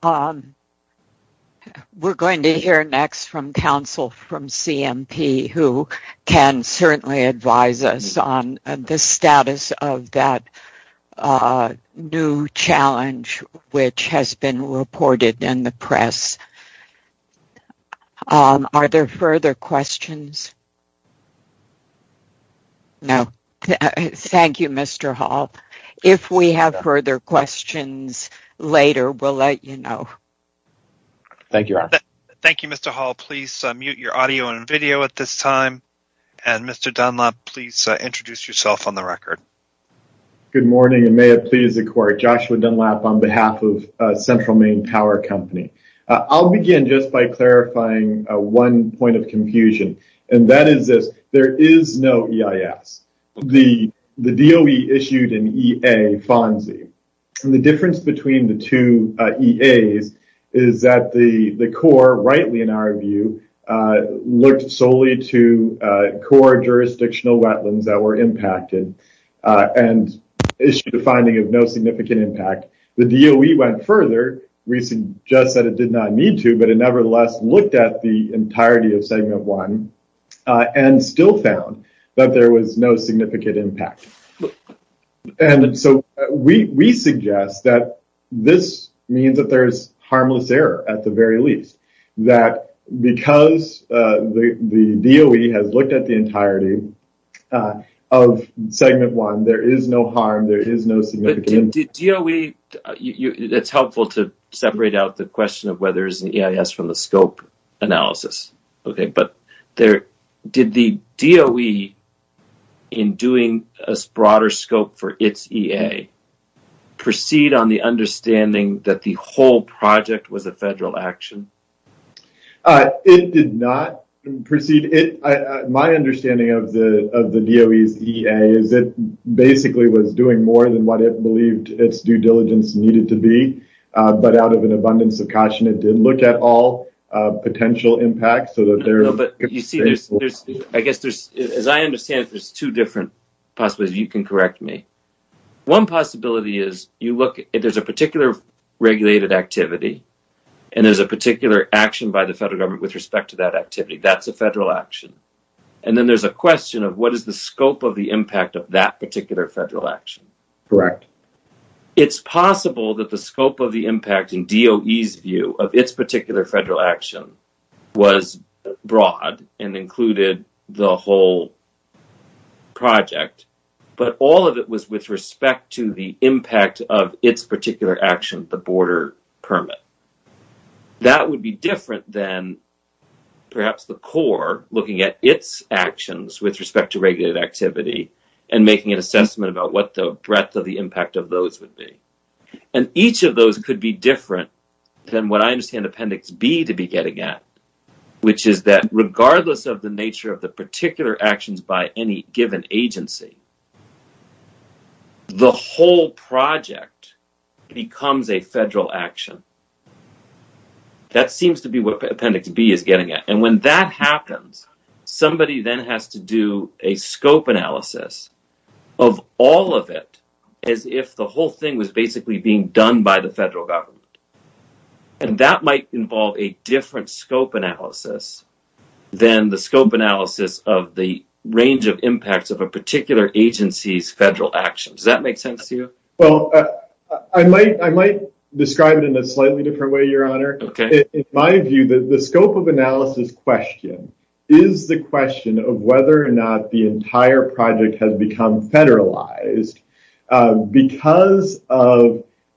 we're going to hear next from counsel from CMP who can certainly advise us on the status of that new challenge which has been reported in the press. Are there further questions? No. Thank you, Mr. Hall. If we have further questions later, we'll let you know. Thank you, Your Honor. Thank you, Mr. Hall. Please mute your audio and video at this time. And Mr. Dunlap, please introduce yourself on the record. Good morning. May it please the court. Joshua Dunlap on behalf of Central Maine Power Company. I'll begin just by clarifying one point of confusion, and that is that there is no EIS. The DOE issued an EA fondly. And the difference between the two EAs is that the core, rightly in our view, looked solely to core jurisdictional wetlands that were impacted and issued a finding of no significant impact. The DOE went further. We suggest that it did not need to, but it nevertheless looked at the entirety of Segment 1 and still found that there was no significant impact. And so we suggest that this means that there's harmless error at the very least. That because the DOE has looked at the entirety of Segment 1, there is no harm, there is no significant... Did DOE... It's helpful to separate out the question of whether there's an EIS from the scope analysis, okay? But did the DOE, in doing a broader scope for its EA, proceed on the understanding that the whole project was a federal action? It did not proceed... My understanding of the DOE's EA is it basically was doing more than what it believed its due diligence needed to be, but out of an abundance of caution, it didn't look at all potential impacts, so that there... I guess, as I understand it, there's two different possibilities. You can correct me. One possibility is you look... There's a particular regulated activity, and there's a particular action by the federal government with respect to that activity. That's a federal action. And then there's a question of what is the scope of the impact of that particular federal action. Correct. It's possible that the scope of the impact, in DOE's view, of its particular federal action was broad and included the whole project, but all of it was with respect to the impact of its particular action, the border permit. That would be different than perhaps the core looking at its actions with respect to regulated activity and making a sentiment about what the breadth of the impact of those would be. And each of those could be different than what I understand Appendix B to be getting at, which is that regardless of the nature of the particular actions by any given agency, the whole project becomes a federal action. That seems to be what Appendix B is getting at. And when that happens, somebody then has to do a scope analysis of all of it as if the whole thing was basically being done by the federal government. And that might involve a different scope analysis than the scope analysis of the range of impacts of a particular agency's federal actions. Does that make sense to you? Well, I might describe it in a slightly different way, Your Honor. In my view, the scope of analysis question is the question of whether or not the entire project has become federalized because,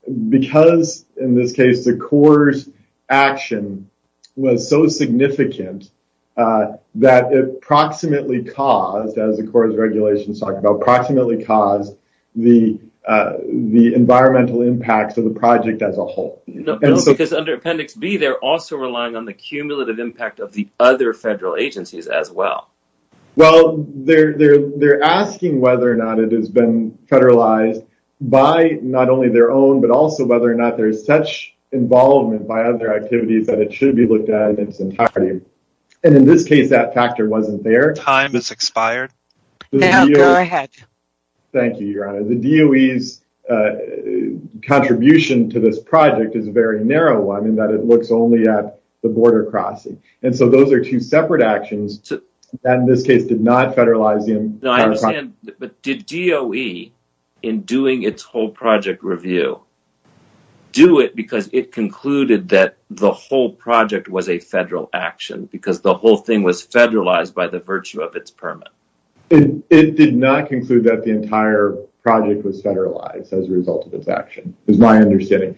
in this case, the Corps' action was so significant that it approximately caused, as the Corps' regulations talk about, approximately caused the environmental impacts of the project as a whole. Because under Appendix B, they're also relying on the cumulative impact of the other federal agencies as well. Well, they're asking whether or not it has been federalized by not only their own, but also whether or not there's such involvement by other activities that it should be looked at in its entirety. And in this case, that factor wasn't there. Time has expired. Go ahead. Thank you, Your Honor. The DOE's contribution to this project is a very narrow one in that it looks only at the border crossing. And so those are two separate actions that, in this case, did not federalize them. No, I understand. But did DOE, in doing its whole project review, do it because it concluded that the whole project was a federal action because the whole thing was federalized by the virtue of its permit? It did not conclude that the entire project was federalized as a result of its action. It's my understanding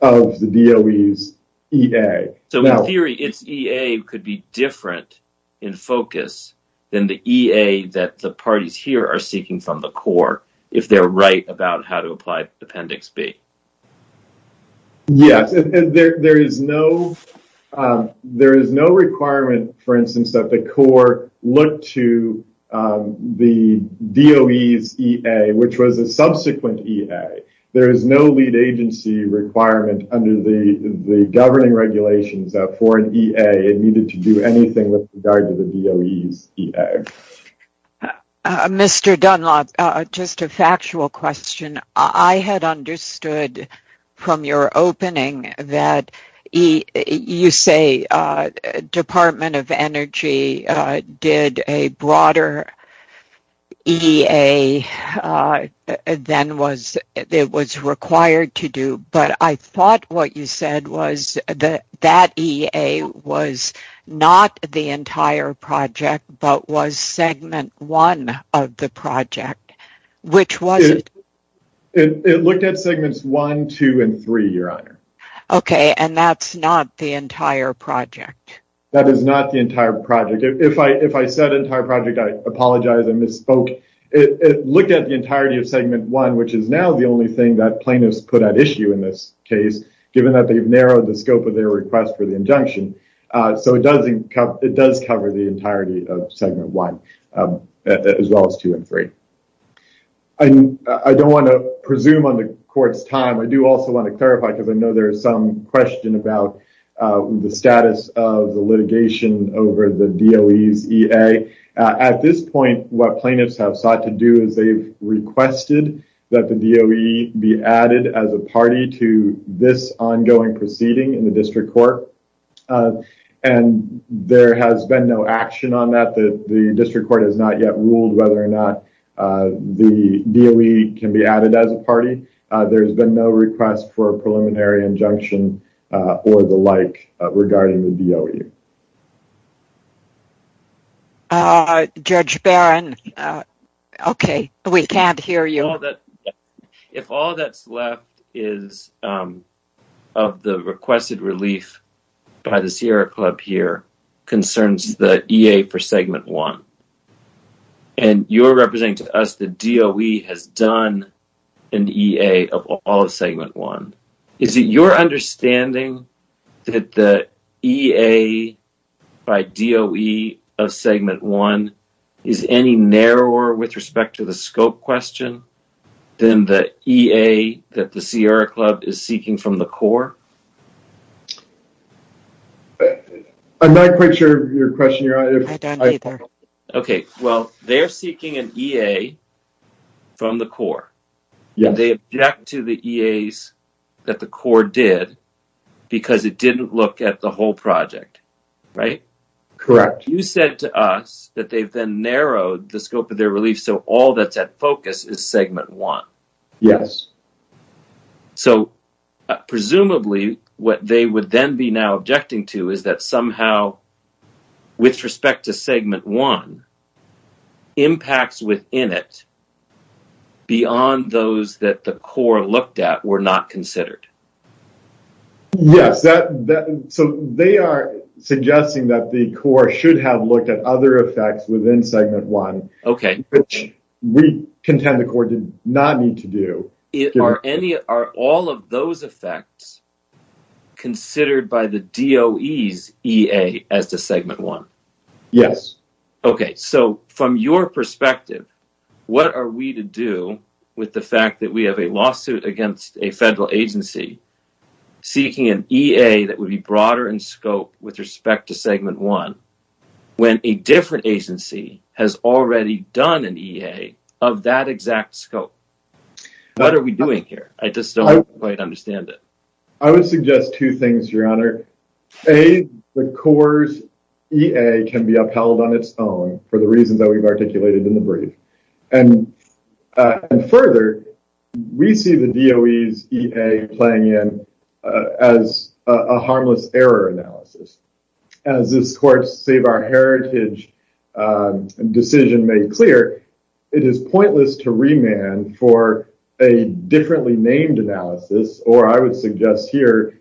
of the DOE's EA. So, in theory, its EA could be different in focus than the EA that the parties here are seeking from the Corps if they're right about how to apply Appendix B. Yes. There is no requirement, for instance, that the Corps look to the DOE's EA, which was a subsequent EA. There is no lead agency requirement under the governing regulations it needed to do anything with regard to the DOE's EA. Mr. Dunlop, just a factual question. I had understood from your opening that you say Department of Energy did a broader EA than it was required to do. But I thought what you said was that that EA was not the entire project but was Segment 1 of the project. Which was it? It looked at Segments 1, 2, and 3, Your Honor. Okay, and that's not the entire project? That is not the entire project. If I said entire project, I apologize. I misspoke. It looked at the entirety of Segment 1, which is now the only thing that plaintiffs put at issue in this case given that they've narrowed the scope of their request for the injunction. So it does cover the entirety of Segment 1 as well as 2 and 3. I don't want to presume on the court's time. I do also want to clarify because I know there is some question about the status of the litigation over the DOE's EA. At this point, what plaintiffs have sought to do is they've requested that the DOE be added as a party to this ongoing proceeding in the district court. And there has been no action on that. The district court has not yet ruled whether or not the DOE can be added as a party. There's been no request for a preliminary injunction or the like regarding the DOE. Judge Barron, okay, we can't hear you. If all that's left is of the requested relief by the Sierra Club here concerns the EA for Segment 1 and you're representing to us the DOE has done an EA of all of Segment 1, is it your understanding that the EA by DOE of Segment 1 is any narrower with respect to the scope question than the EA that the Sierra Club is seeking from the core? I'm not quite sure of your question. I don't either. Okay, well, they're seeking an EA from the core. Yeah. They object to the EAs that the core did because it didn't look at the whole project, right? Correct. You said to us that they've been narrowed the scope of their relief so all that's at focus is Segment 1. Yes. So presumably what they would then be now objecting to is that somehow with respect to Segment 1 impacts within it beyond those that the core looked at were not considered. Yes, so they are suggesting that the core should have looked at other effects within Segment 1. Okay. Which we contend the core did not need to do. Are all of those effects considered by the DOE's EA as to Segment 1? Yes. Okay, so from your perspective what are we to do with the fact that we have a lawsuit against a federal agency seeking an EA that would be broader in scope with respect to Segment 1 when a different agency has already done an EA of that exact scope? What are we doing here? I just don't quite understand it. I would suggest two things, Your Honor. A, the core's EA can be upheld on its own for the reasons that we've articulated in the brief. And further we see the DOE's EA playing in as a harmless error analysis. As this court's Save Our Heritage decision made clear it is pointless to remand for a differently named analysis or I would suggest here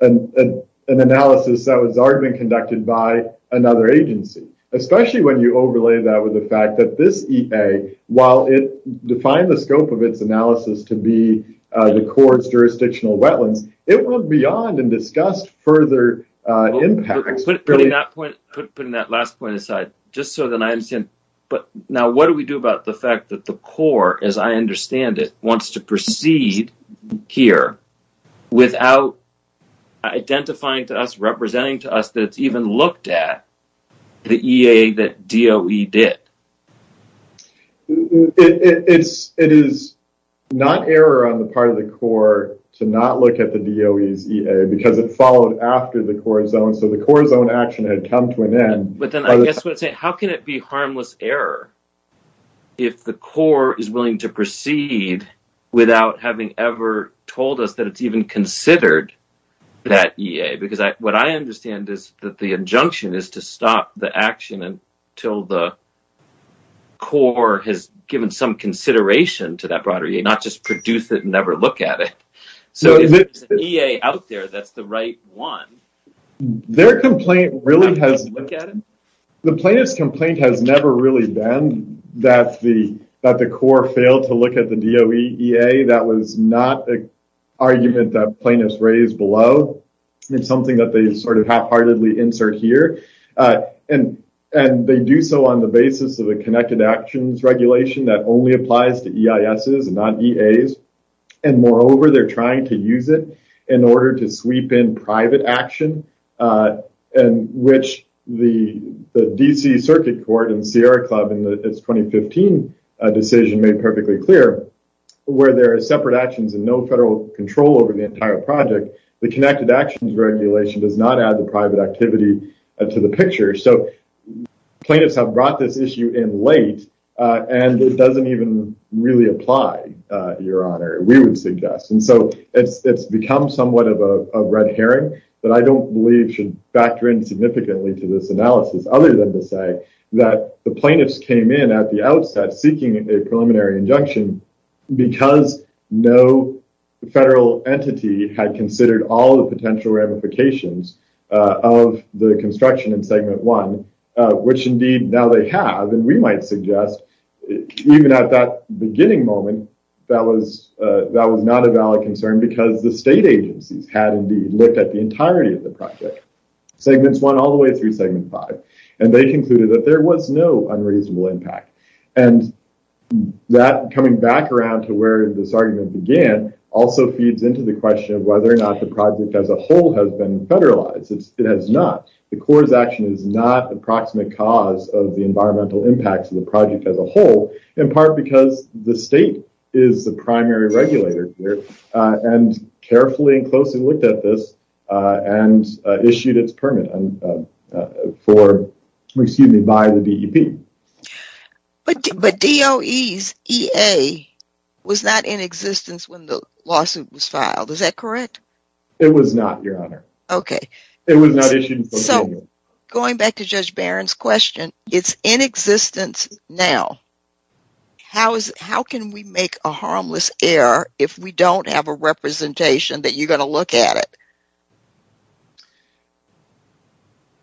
an analysis that was already conducted by another agency especially when you overlay that with the fact that this EA while it defined the scope of its analysis to be the court's jurisdictional wetland it went beyond and discussed further impacts. Putting that last point aside just so that I understand now what do we do about the fact that the court as I understand it wants to proceed here without identifying to us representing to us that it's even looked at the EA that DOE did. It is not error on the part of the court to not look at the DOE's EA because it followed after the court's own so the court's own action had come to an end. But then I guess what I'm saying how can it be harmless error if the court is willing to proceed without having ever told us that it's even considered that EA because what I understand is that the injunction is to stop the action until the court has given some consideration to that broader EA not just produce it and never look at it. So if there's an EA out there that's the right one. Their complaint really has the plaintiff's complaint has never really been that the court failed to look at the DOE EA that was not an argument that plaintiffs raised below is something that they sort of half-heartedly insert here. And they do so on the basis of a connected actions regulation that only applies to EISs and not EAs. And moreover they're trying to use it in order to sweep in private action in which the DC Circuit Court and Sierra Club in its 2015 decision made perfectly clear where there are separate actions and no federal control over the entire project the connected actions regulation does not add the private activity to the picture. So plaintiffs have brought this issue in late and it doesn't even really apply your honor we would suggest. And so it's become somewhat of a red herring that I don't believe should factor in significantly to this analysis other than to say that the plaintiffs came in at the outset seeking a preliminary injunction because no federal entity had considered all the potential ramifications of the construction in segment one which indeed now they have and we might suggest even at that beginning moment that was not a valid concern because the state agency had indeed looked at the entirety of the project segments one all the way through segment five and they concluded that there was no unreasonable impact. And that coming back around to where this argument began also feeds into the question of whether or not the project as a whole has been federalized. It has not. The court's action is not the proximate cause of the environmental impacts of the project as a whole in part because the state is the primary regulator here and carefully and closely looked at this and issued its permit for, excuse me, by the DEP. But DOE's EA was not in existence when the lawsuit was filed. Is that correct? It was not, Your Honor. Okay. It was not issued. So going back to Judge Barron's question, it's in existence now. How can we make a harmless error if we don't have a representation that you're gonna look at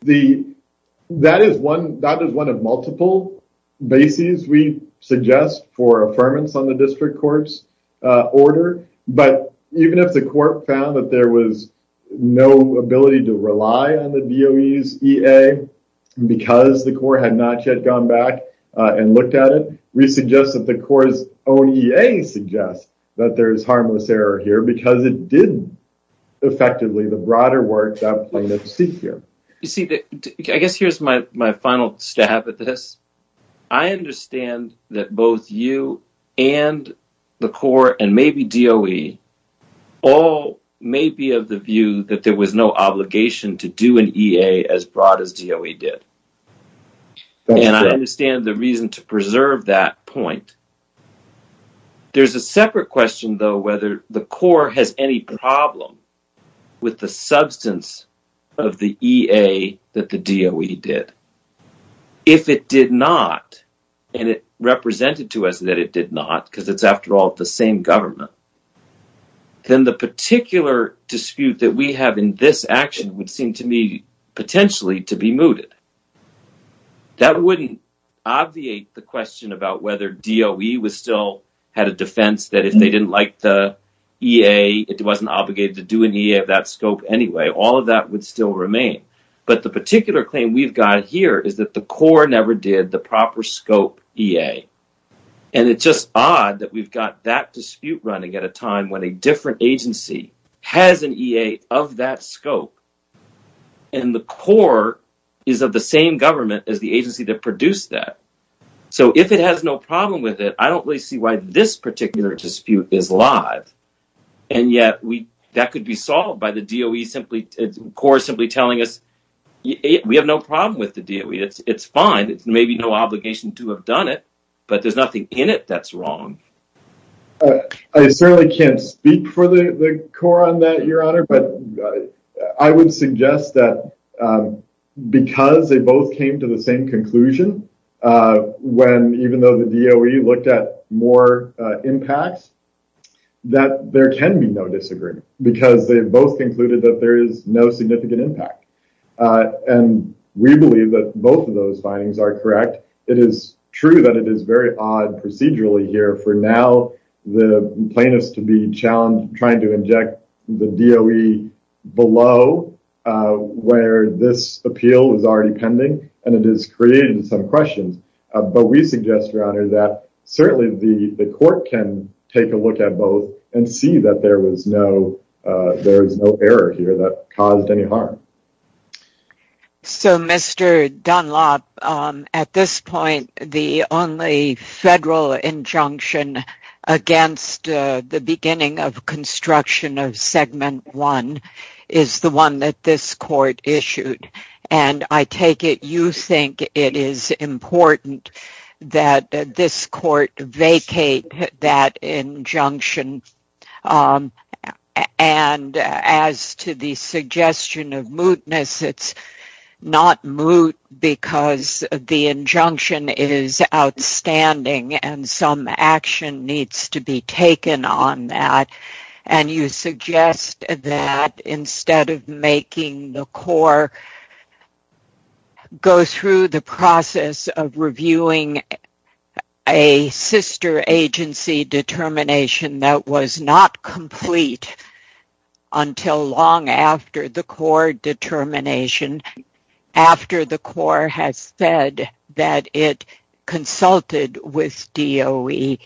it? That is one of multiple bases we suggest for affirmance on the district courts order. But even if the court found that there was no ability to rely on the DOE's EA because the court had not yet gone back and looked at it, we suggest that the court's own EA suggests that there is harmless error here because it did effectively the broader work that was needed to seek here. You see, I guess here's my final stab at this. I understand that both you and the court and maybe DOE all may be of the view that there was no obligation to do an EA as broad as DOE did. And I understand the reason to preserve that point. There's a separate question, though, whether the court has any problem with the substance of the EA that the DOE did. If it did not, and it represented to us that it did not because it's after all the same government, then the particular dispute that we have in this action would seem to me potentially to be mooted. That wouldn't obviate the question about whether DOE still had a defense that if they didn't like the EA, it wasn't obligated to do an EA of that scope anyway. All of that would still remain. But the particular claim we've got here is that the court never did the proper scope EA. And it's just odd that we've got that dispute running at a time when a different agency has an EA of that scope and the court is of the same government as the agency that produced that. So if it has no problem with it, I don't really see why this particular dispute is live. And yet that could be solved by the DOE simply, the court simply telling us, we have no problem with the DOE. It's fine. There may be no obligation to have done it, but there's nothing in it that's wrong. I certainly can't speak for the court on that, Your Honor, but I would suggest that because they both came to the same conclusion when even though the DOE looked at more impacts, that there can be no disagreement because they both concluded that there is no significant impact. And we believe that both of those findings are correct. It is true that it is very odd procedurally here. For now, the plaintiffs to be challenged trying to inject the DOE below where this appeal is already pending and it is creating some questions. But we suggest, Your Honor, that certainly the court can take a look at both and see that there is no error here that caused any harm. So, Mr. Dunlop, at this point, the only federal injunction against the beginning of construction of Segment 1 is the one that this court issued. And I take it you think it is important that this court vacate that injunction. And as to the suggestion of mootness, it is not moot because the injunction is outstanding and some action needs to be taken on that. I will, however, go through the process of reviewing a sister agency determination that was not complete until long after the court determination after the court has said that it consulted with DOE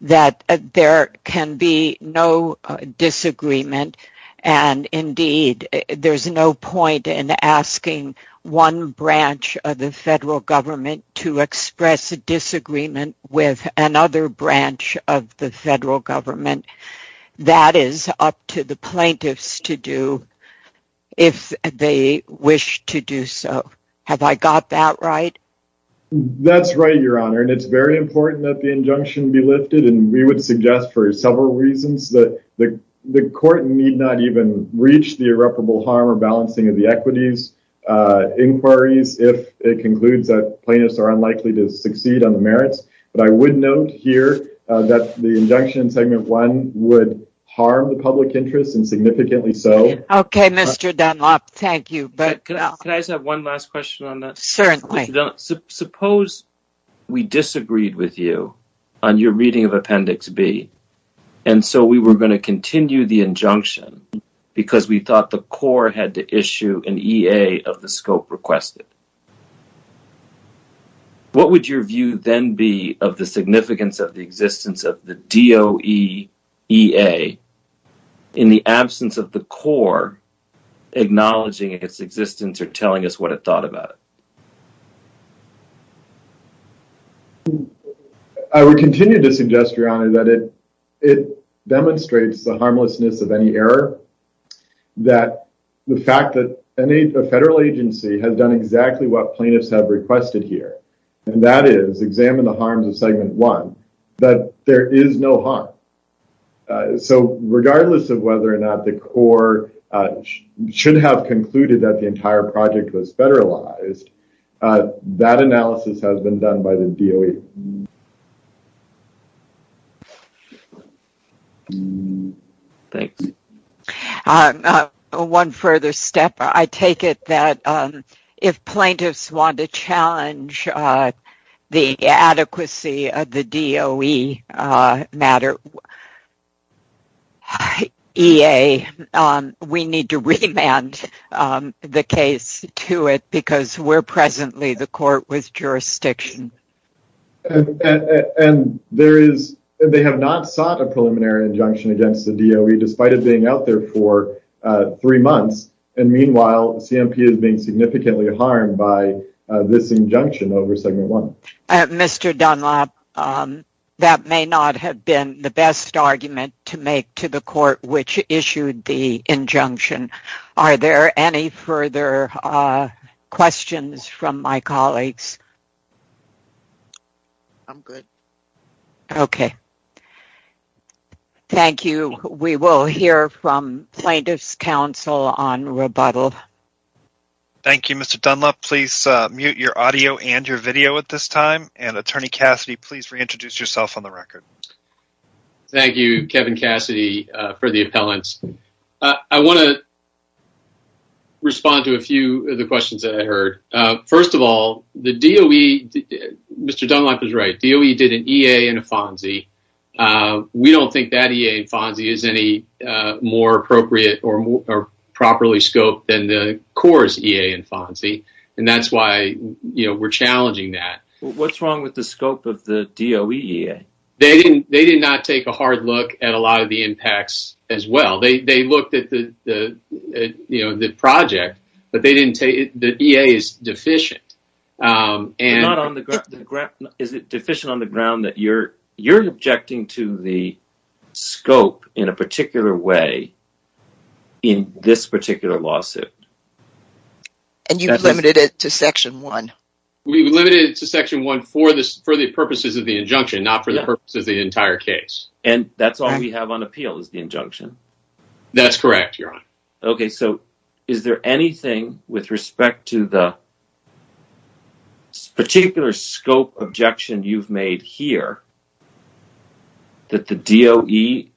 that there can be no disagreement. And, indeed, there is no point in asking one branch of the federal government to express a disagreement with another branch of the federal government. That is up to the plaintiffs to do if they wish to do so. Have I got that right? That's right, Your Honor. And it's very important that the injunction be lifted. And we would suggest for several reasons that the court need not even reach the irreparable harm or balancing of the equities inquiries if it concludes that plaintiffs are unlikely to succeed on the merits. But I would note here that the injunction in payment 1 would harm the public interest and significantly so. Okay, Mr. Dunlop, thank you. Can I just have one last question on that? Certainly. Suppose we disagreed with you on your reading of Appendix B and so we were going to continue the injunction because we thought the court had to issue an EA of the scope requested. What would your view then be of the significance of the existence of the DOE EA in the absence of the court acknowledging its existence or telling us what it thought about it? I would continue to suggest, Your Honor, that it demonstrates the harmlessness of any error, that the fact that any federal agency has done exactly what plaintiffs have requested here, and that is examine the harms of Segment 1, that there is no harm. So regardless of whether or not the court should have concluded that the entire project was federalized, that analysis has been done by the DOE. Thank you. One further step. I take it that if plaintiffs want to challenge the adequacy of the DOE matter EA, we need to remand the case to it because where presently the court was jurisdiction. And they have not sought a preliminary injunction against the DOE despite it being out there for three months, and meanwhile, the CMP has been significantly harmed by this injunction over Segment 1. Mr. Dunlop, that may not have been the best argument to make to the court which issued the injunction. Are there any further questions from my colleagues? Okay. Thank you. We will hear from plaintiff's counsel on rebuttal. Thank you, Mr. Dunlop. Please mute your audio and your video at this time. And, Attorney Cassidy, please reintroduce yourself on the record. Thank you, Kevin Cassidy, for the appellants. I want to respond to a few of the questions that I heard. First of all, the DOE, Mr. Dunlop is right, DOE did an EA and a FONSI. We don't think that EA and FONSI is any more appropriate or properly scoped than the CORE's EA and FONSI, and that's why we're challenging that. What's wrong with the scope of the DOE EA? They did not take a hard look at a lot of the impacts as well. They looked at the project, but they didn't say the EA is deficient. Is it deficient on the ground that you're objecting to the scope in a particular way in this particular lawsuit? And you've limited it to Section 1. We've limited it to Section 1 for the purposes of the injunction, not for the purpose of the entire case. And that's all we have on appeal is the injunction. That's correct, Your Honor. Okay. So is there anything with respect to the particular scope objection you've made here that the DOE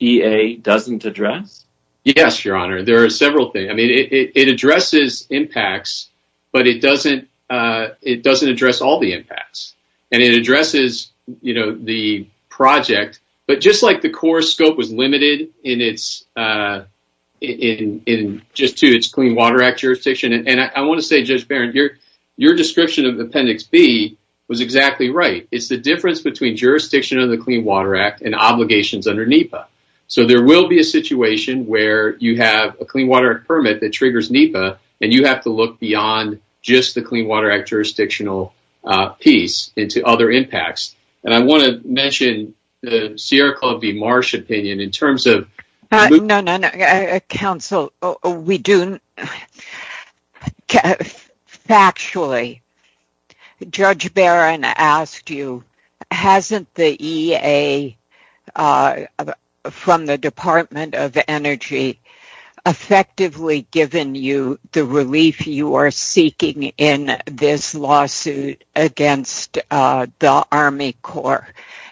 EA doesn't address? Yes, Your Honor. There are several things. I mean, it addresses impacts, but it doesn't address all the impacts. And it addresses, you know, the project, but just like the core scope is limited in just to its Clean Water Act jurisdiction. And I want to say, Judge Barron, your description of Appendix B was exactly right. It's the difference between jurisdiction of the Clean Water Act and obligations under NEPA. So there will be a situation where you have a Clean Water Act permit that triggers NEPA, and you have to look beyond just the Clean Water Act jurisdictional piece into other impacts. And I want to mention the Sierra Club v. Marsh opinion in terms of – No, no, no. Counsel, we do – factually, Judge Barron asked you, hasn't the EA from the Department of Energy effectively given you the relief you are seeking in this lawsuit against the Army Corps?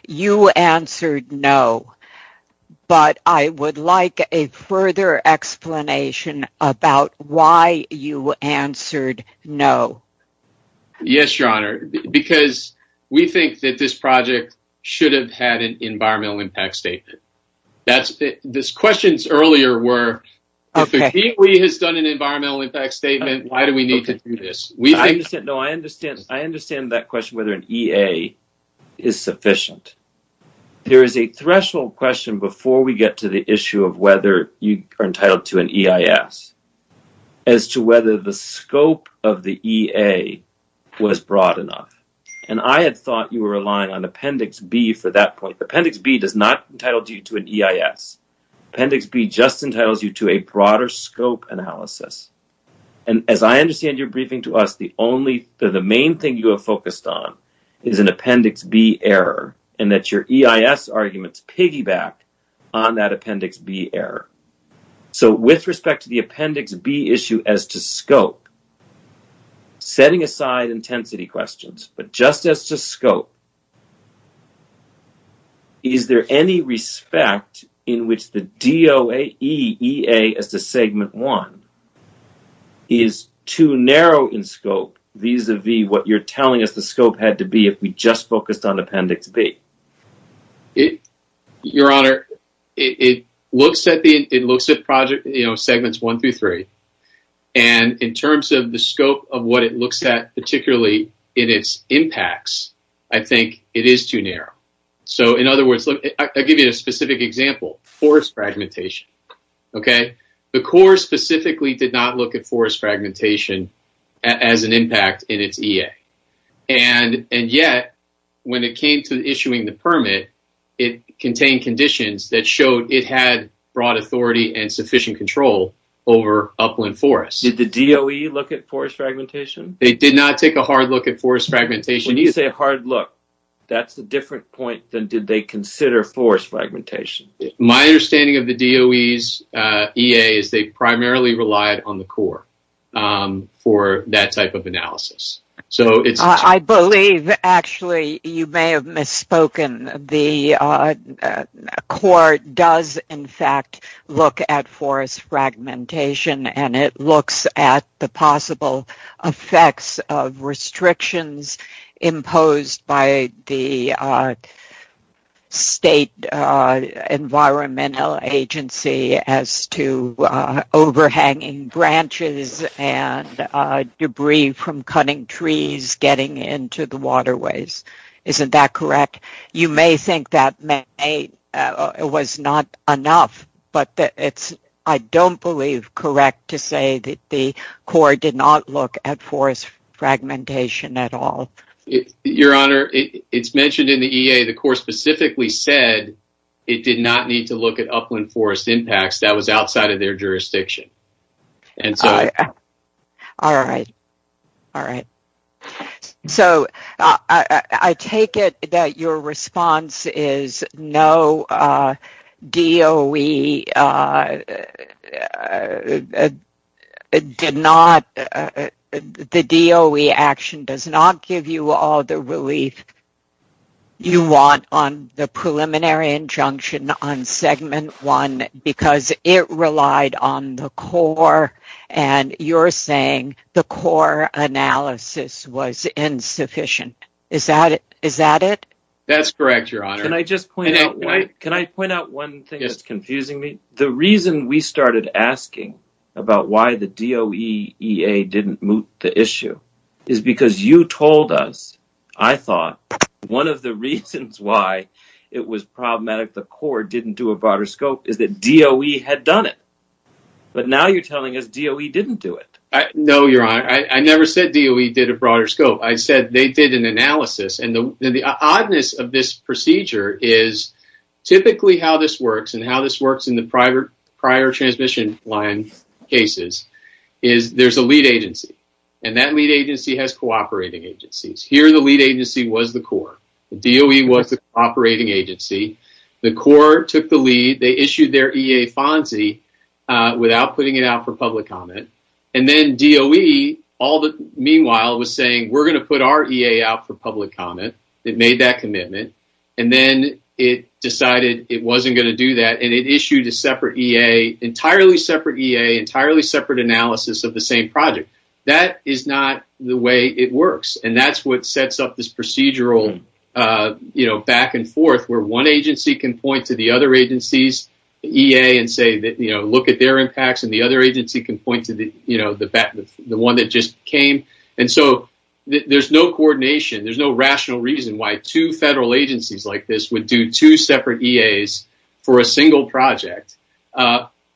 You answered no. But I would like a further explanation about why you answered no. Yes, Your Honor, because we think that this project should have had an environmental impact statement. The questions earlier were, if the EPA has done an environmental impact statement, why do we need to do this? I understand that question, whether an EA is sufficient. There is a threshold question before we get to the issue of whether you are entitled to an EIS, as to whether the scope of the EA was broad enough. And I had thought you were relying on Appendix B for that point. Appendix B does not entitle you to an EIS. Appendix B just entitles you to a broader scope analysis. And as I understand your briefing to us, the main thing you have focused on is an Appendix B error, and that your EIS arguments piggyback on that Appendix B error. So with respect to the Appendix B issue as to scope, setting aside intensity questions, but just as to scope, is there any respect in which the DOAE EA as the Segment 1 is too narrow in scope, vis-à-vis what you are telling us the scope had to be if we just focused on Appendix B? Your Honor, it looks at Segments 1 through 3. And in terms of the scope of what it looks at, particularly in its impacts, I think it is too narrow. So in other words, I'll give you a specific example, forest fragmentation, okay? The Corps specifically did not look at forest fragmentation as an impact in its EA. And yet, when it came to issuing the permit, it contained conditions that showed it had broad authority and sufficient control over upland forests. Did the DOAE look at forest fragmentation? They did not take a hard look at forest fragmentation. When you say a hard look, that's a different point than did they consider forest fragmentation. My understanding of the DOAE's EA is they primarily relied on the Corps for that type of analysis. I believe, actually, you may have misspoken. The Corps does, in fact, look at forest fragmentation, and it looks at the possible effects of restrictions imposed by the state environmental agency as to overhanging branches and debris from cutting trees getting into the waterways. Isn't that correct? You may think that was not enough, but I don't believe correct to say that the Corps did not look at forest fragmentation at all. Your Honor, it's mentioned in the EA. The Corps specifically said it did not need to look at upland forest impacts. That was outside of their jurisdiction. All right, all right. I take it that your response is no, the DOAE action does not give you all the relief you want on the preliminary injunction on Segment 1 because it relied on the Corps, and you're saying the Corps analysis was insufficient. Is that it? That's correct, Your Honor. Can I just point out one thing that's confusing me? The reason we started asking about why the DOAE didn't move the issue is because you told us, I thought, one of the reasons why it was problematic the Corps didn't do a broader scope is that DOAE had done it. But now you're telling us DOAE didn't do it. No, Your Honor. I never said DOAE did a broader scope. I said they did an analysis, and the oddness of this procedure is typically how this works and how this works in the prior transmission line cases is there's a lead agency, and that lead agency has cooperating agencies. Here the lead agency was the Corps. DOAE was the operating agency. The Corps took the lead. They issued their EA FONSI without putting it out for public comment, and then DOAE, meanwhile, was saying we're going to put our EA out for public comment. It made that commitment, and then it decided it wasn't going to do that, and it issued a separate EA, entirely separate EA, entirely separate analysis of the same project. That is not the way it works, and that's what sets up this procedural back and forth where one agency can point to the other agency's EA and say look at their impacts and the other agency can point to the one that just came, and so there's no coordination. There's no rational reason why two federal agencies like this would do two separate EAs for a single project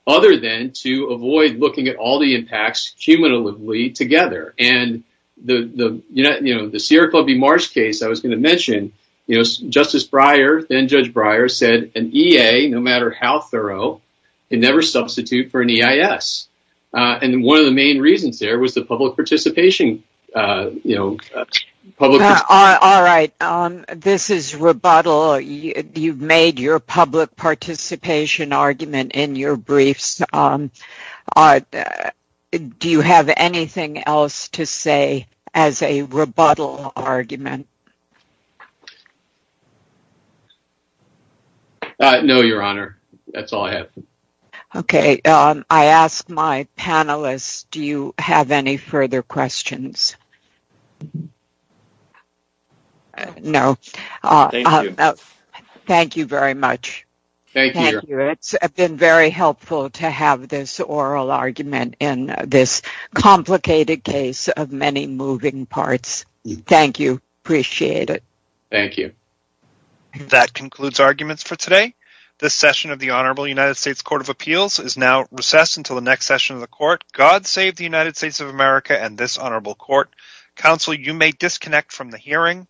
other than to avoid looking at all the impacts cumulatively together, and the Sierra Club v. Mars case I was going to mention, Justice Breyer, then Judge Breyer, said an EA, no matter how thorough, can never substitute for an EIS, and one of the main reasons there was the public participation, you know. All right. This is rebuttal. You've made your public participation argument in your briefs. Do you have anything else to say as a rebuttal argument? No, Your Honor. That's all I have. Okay. I ask my panelists, do you have any further questions? No. Thank you. Thank you very much. Thank you. Thank you. It's been very helpful to have this oral argument in this complicated case of many moving parts. Thank you. Appreciate it. Thank you. That concludes arguments for today. This session of the Honorable United States Court of Appeals is now recessed until the next session of the court. God save the United States of America and this honorable court. Counsel, you may disconnect from the hearing.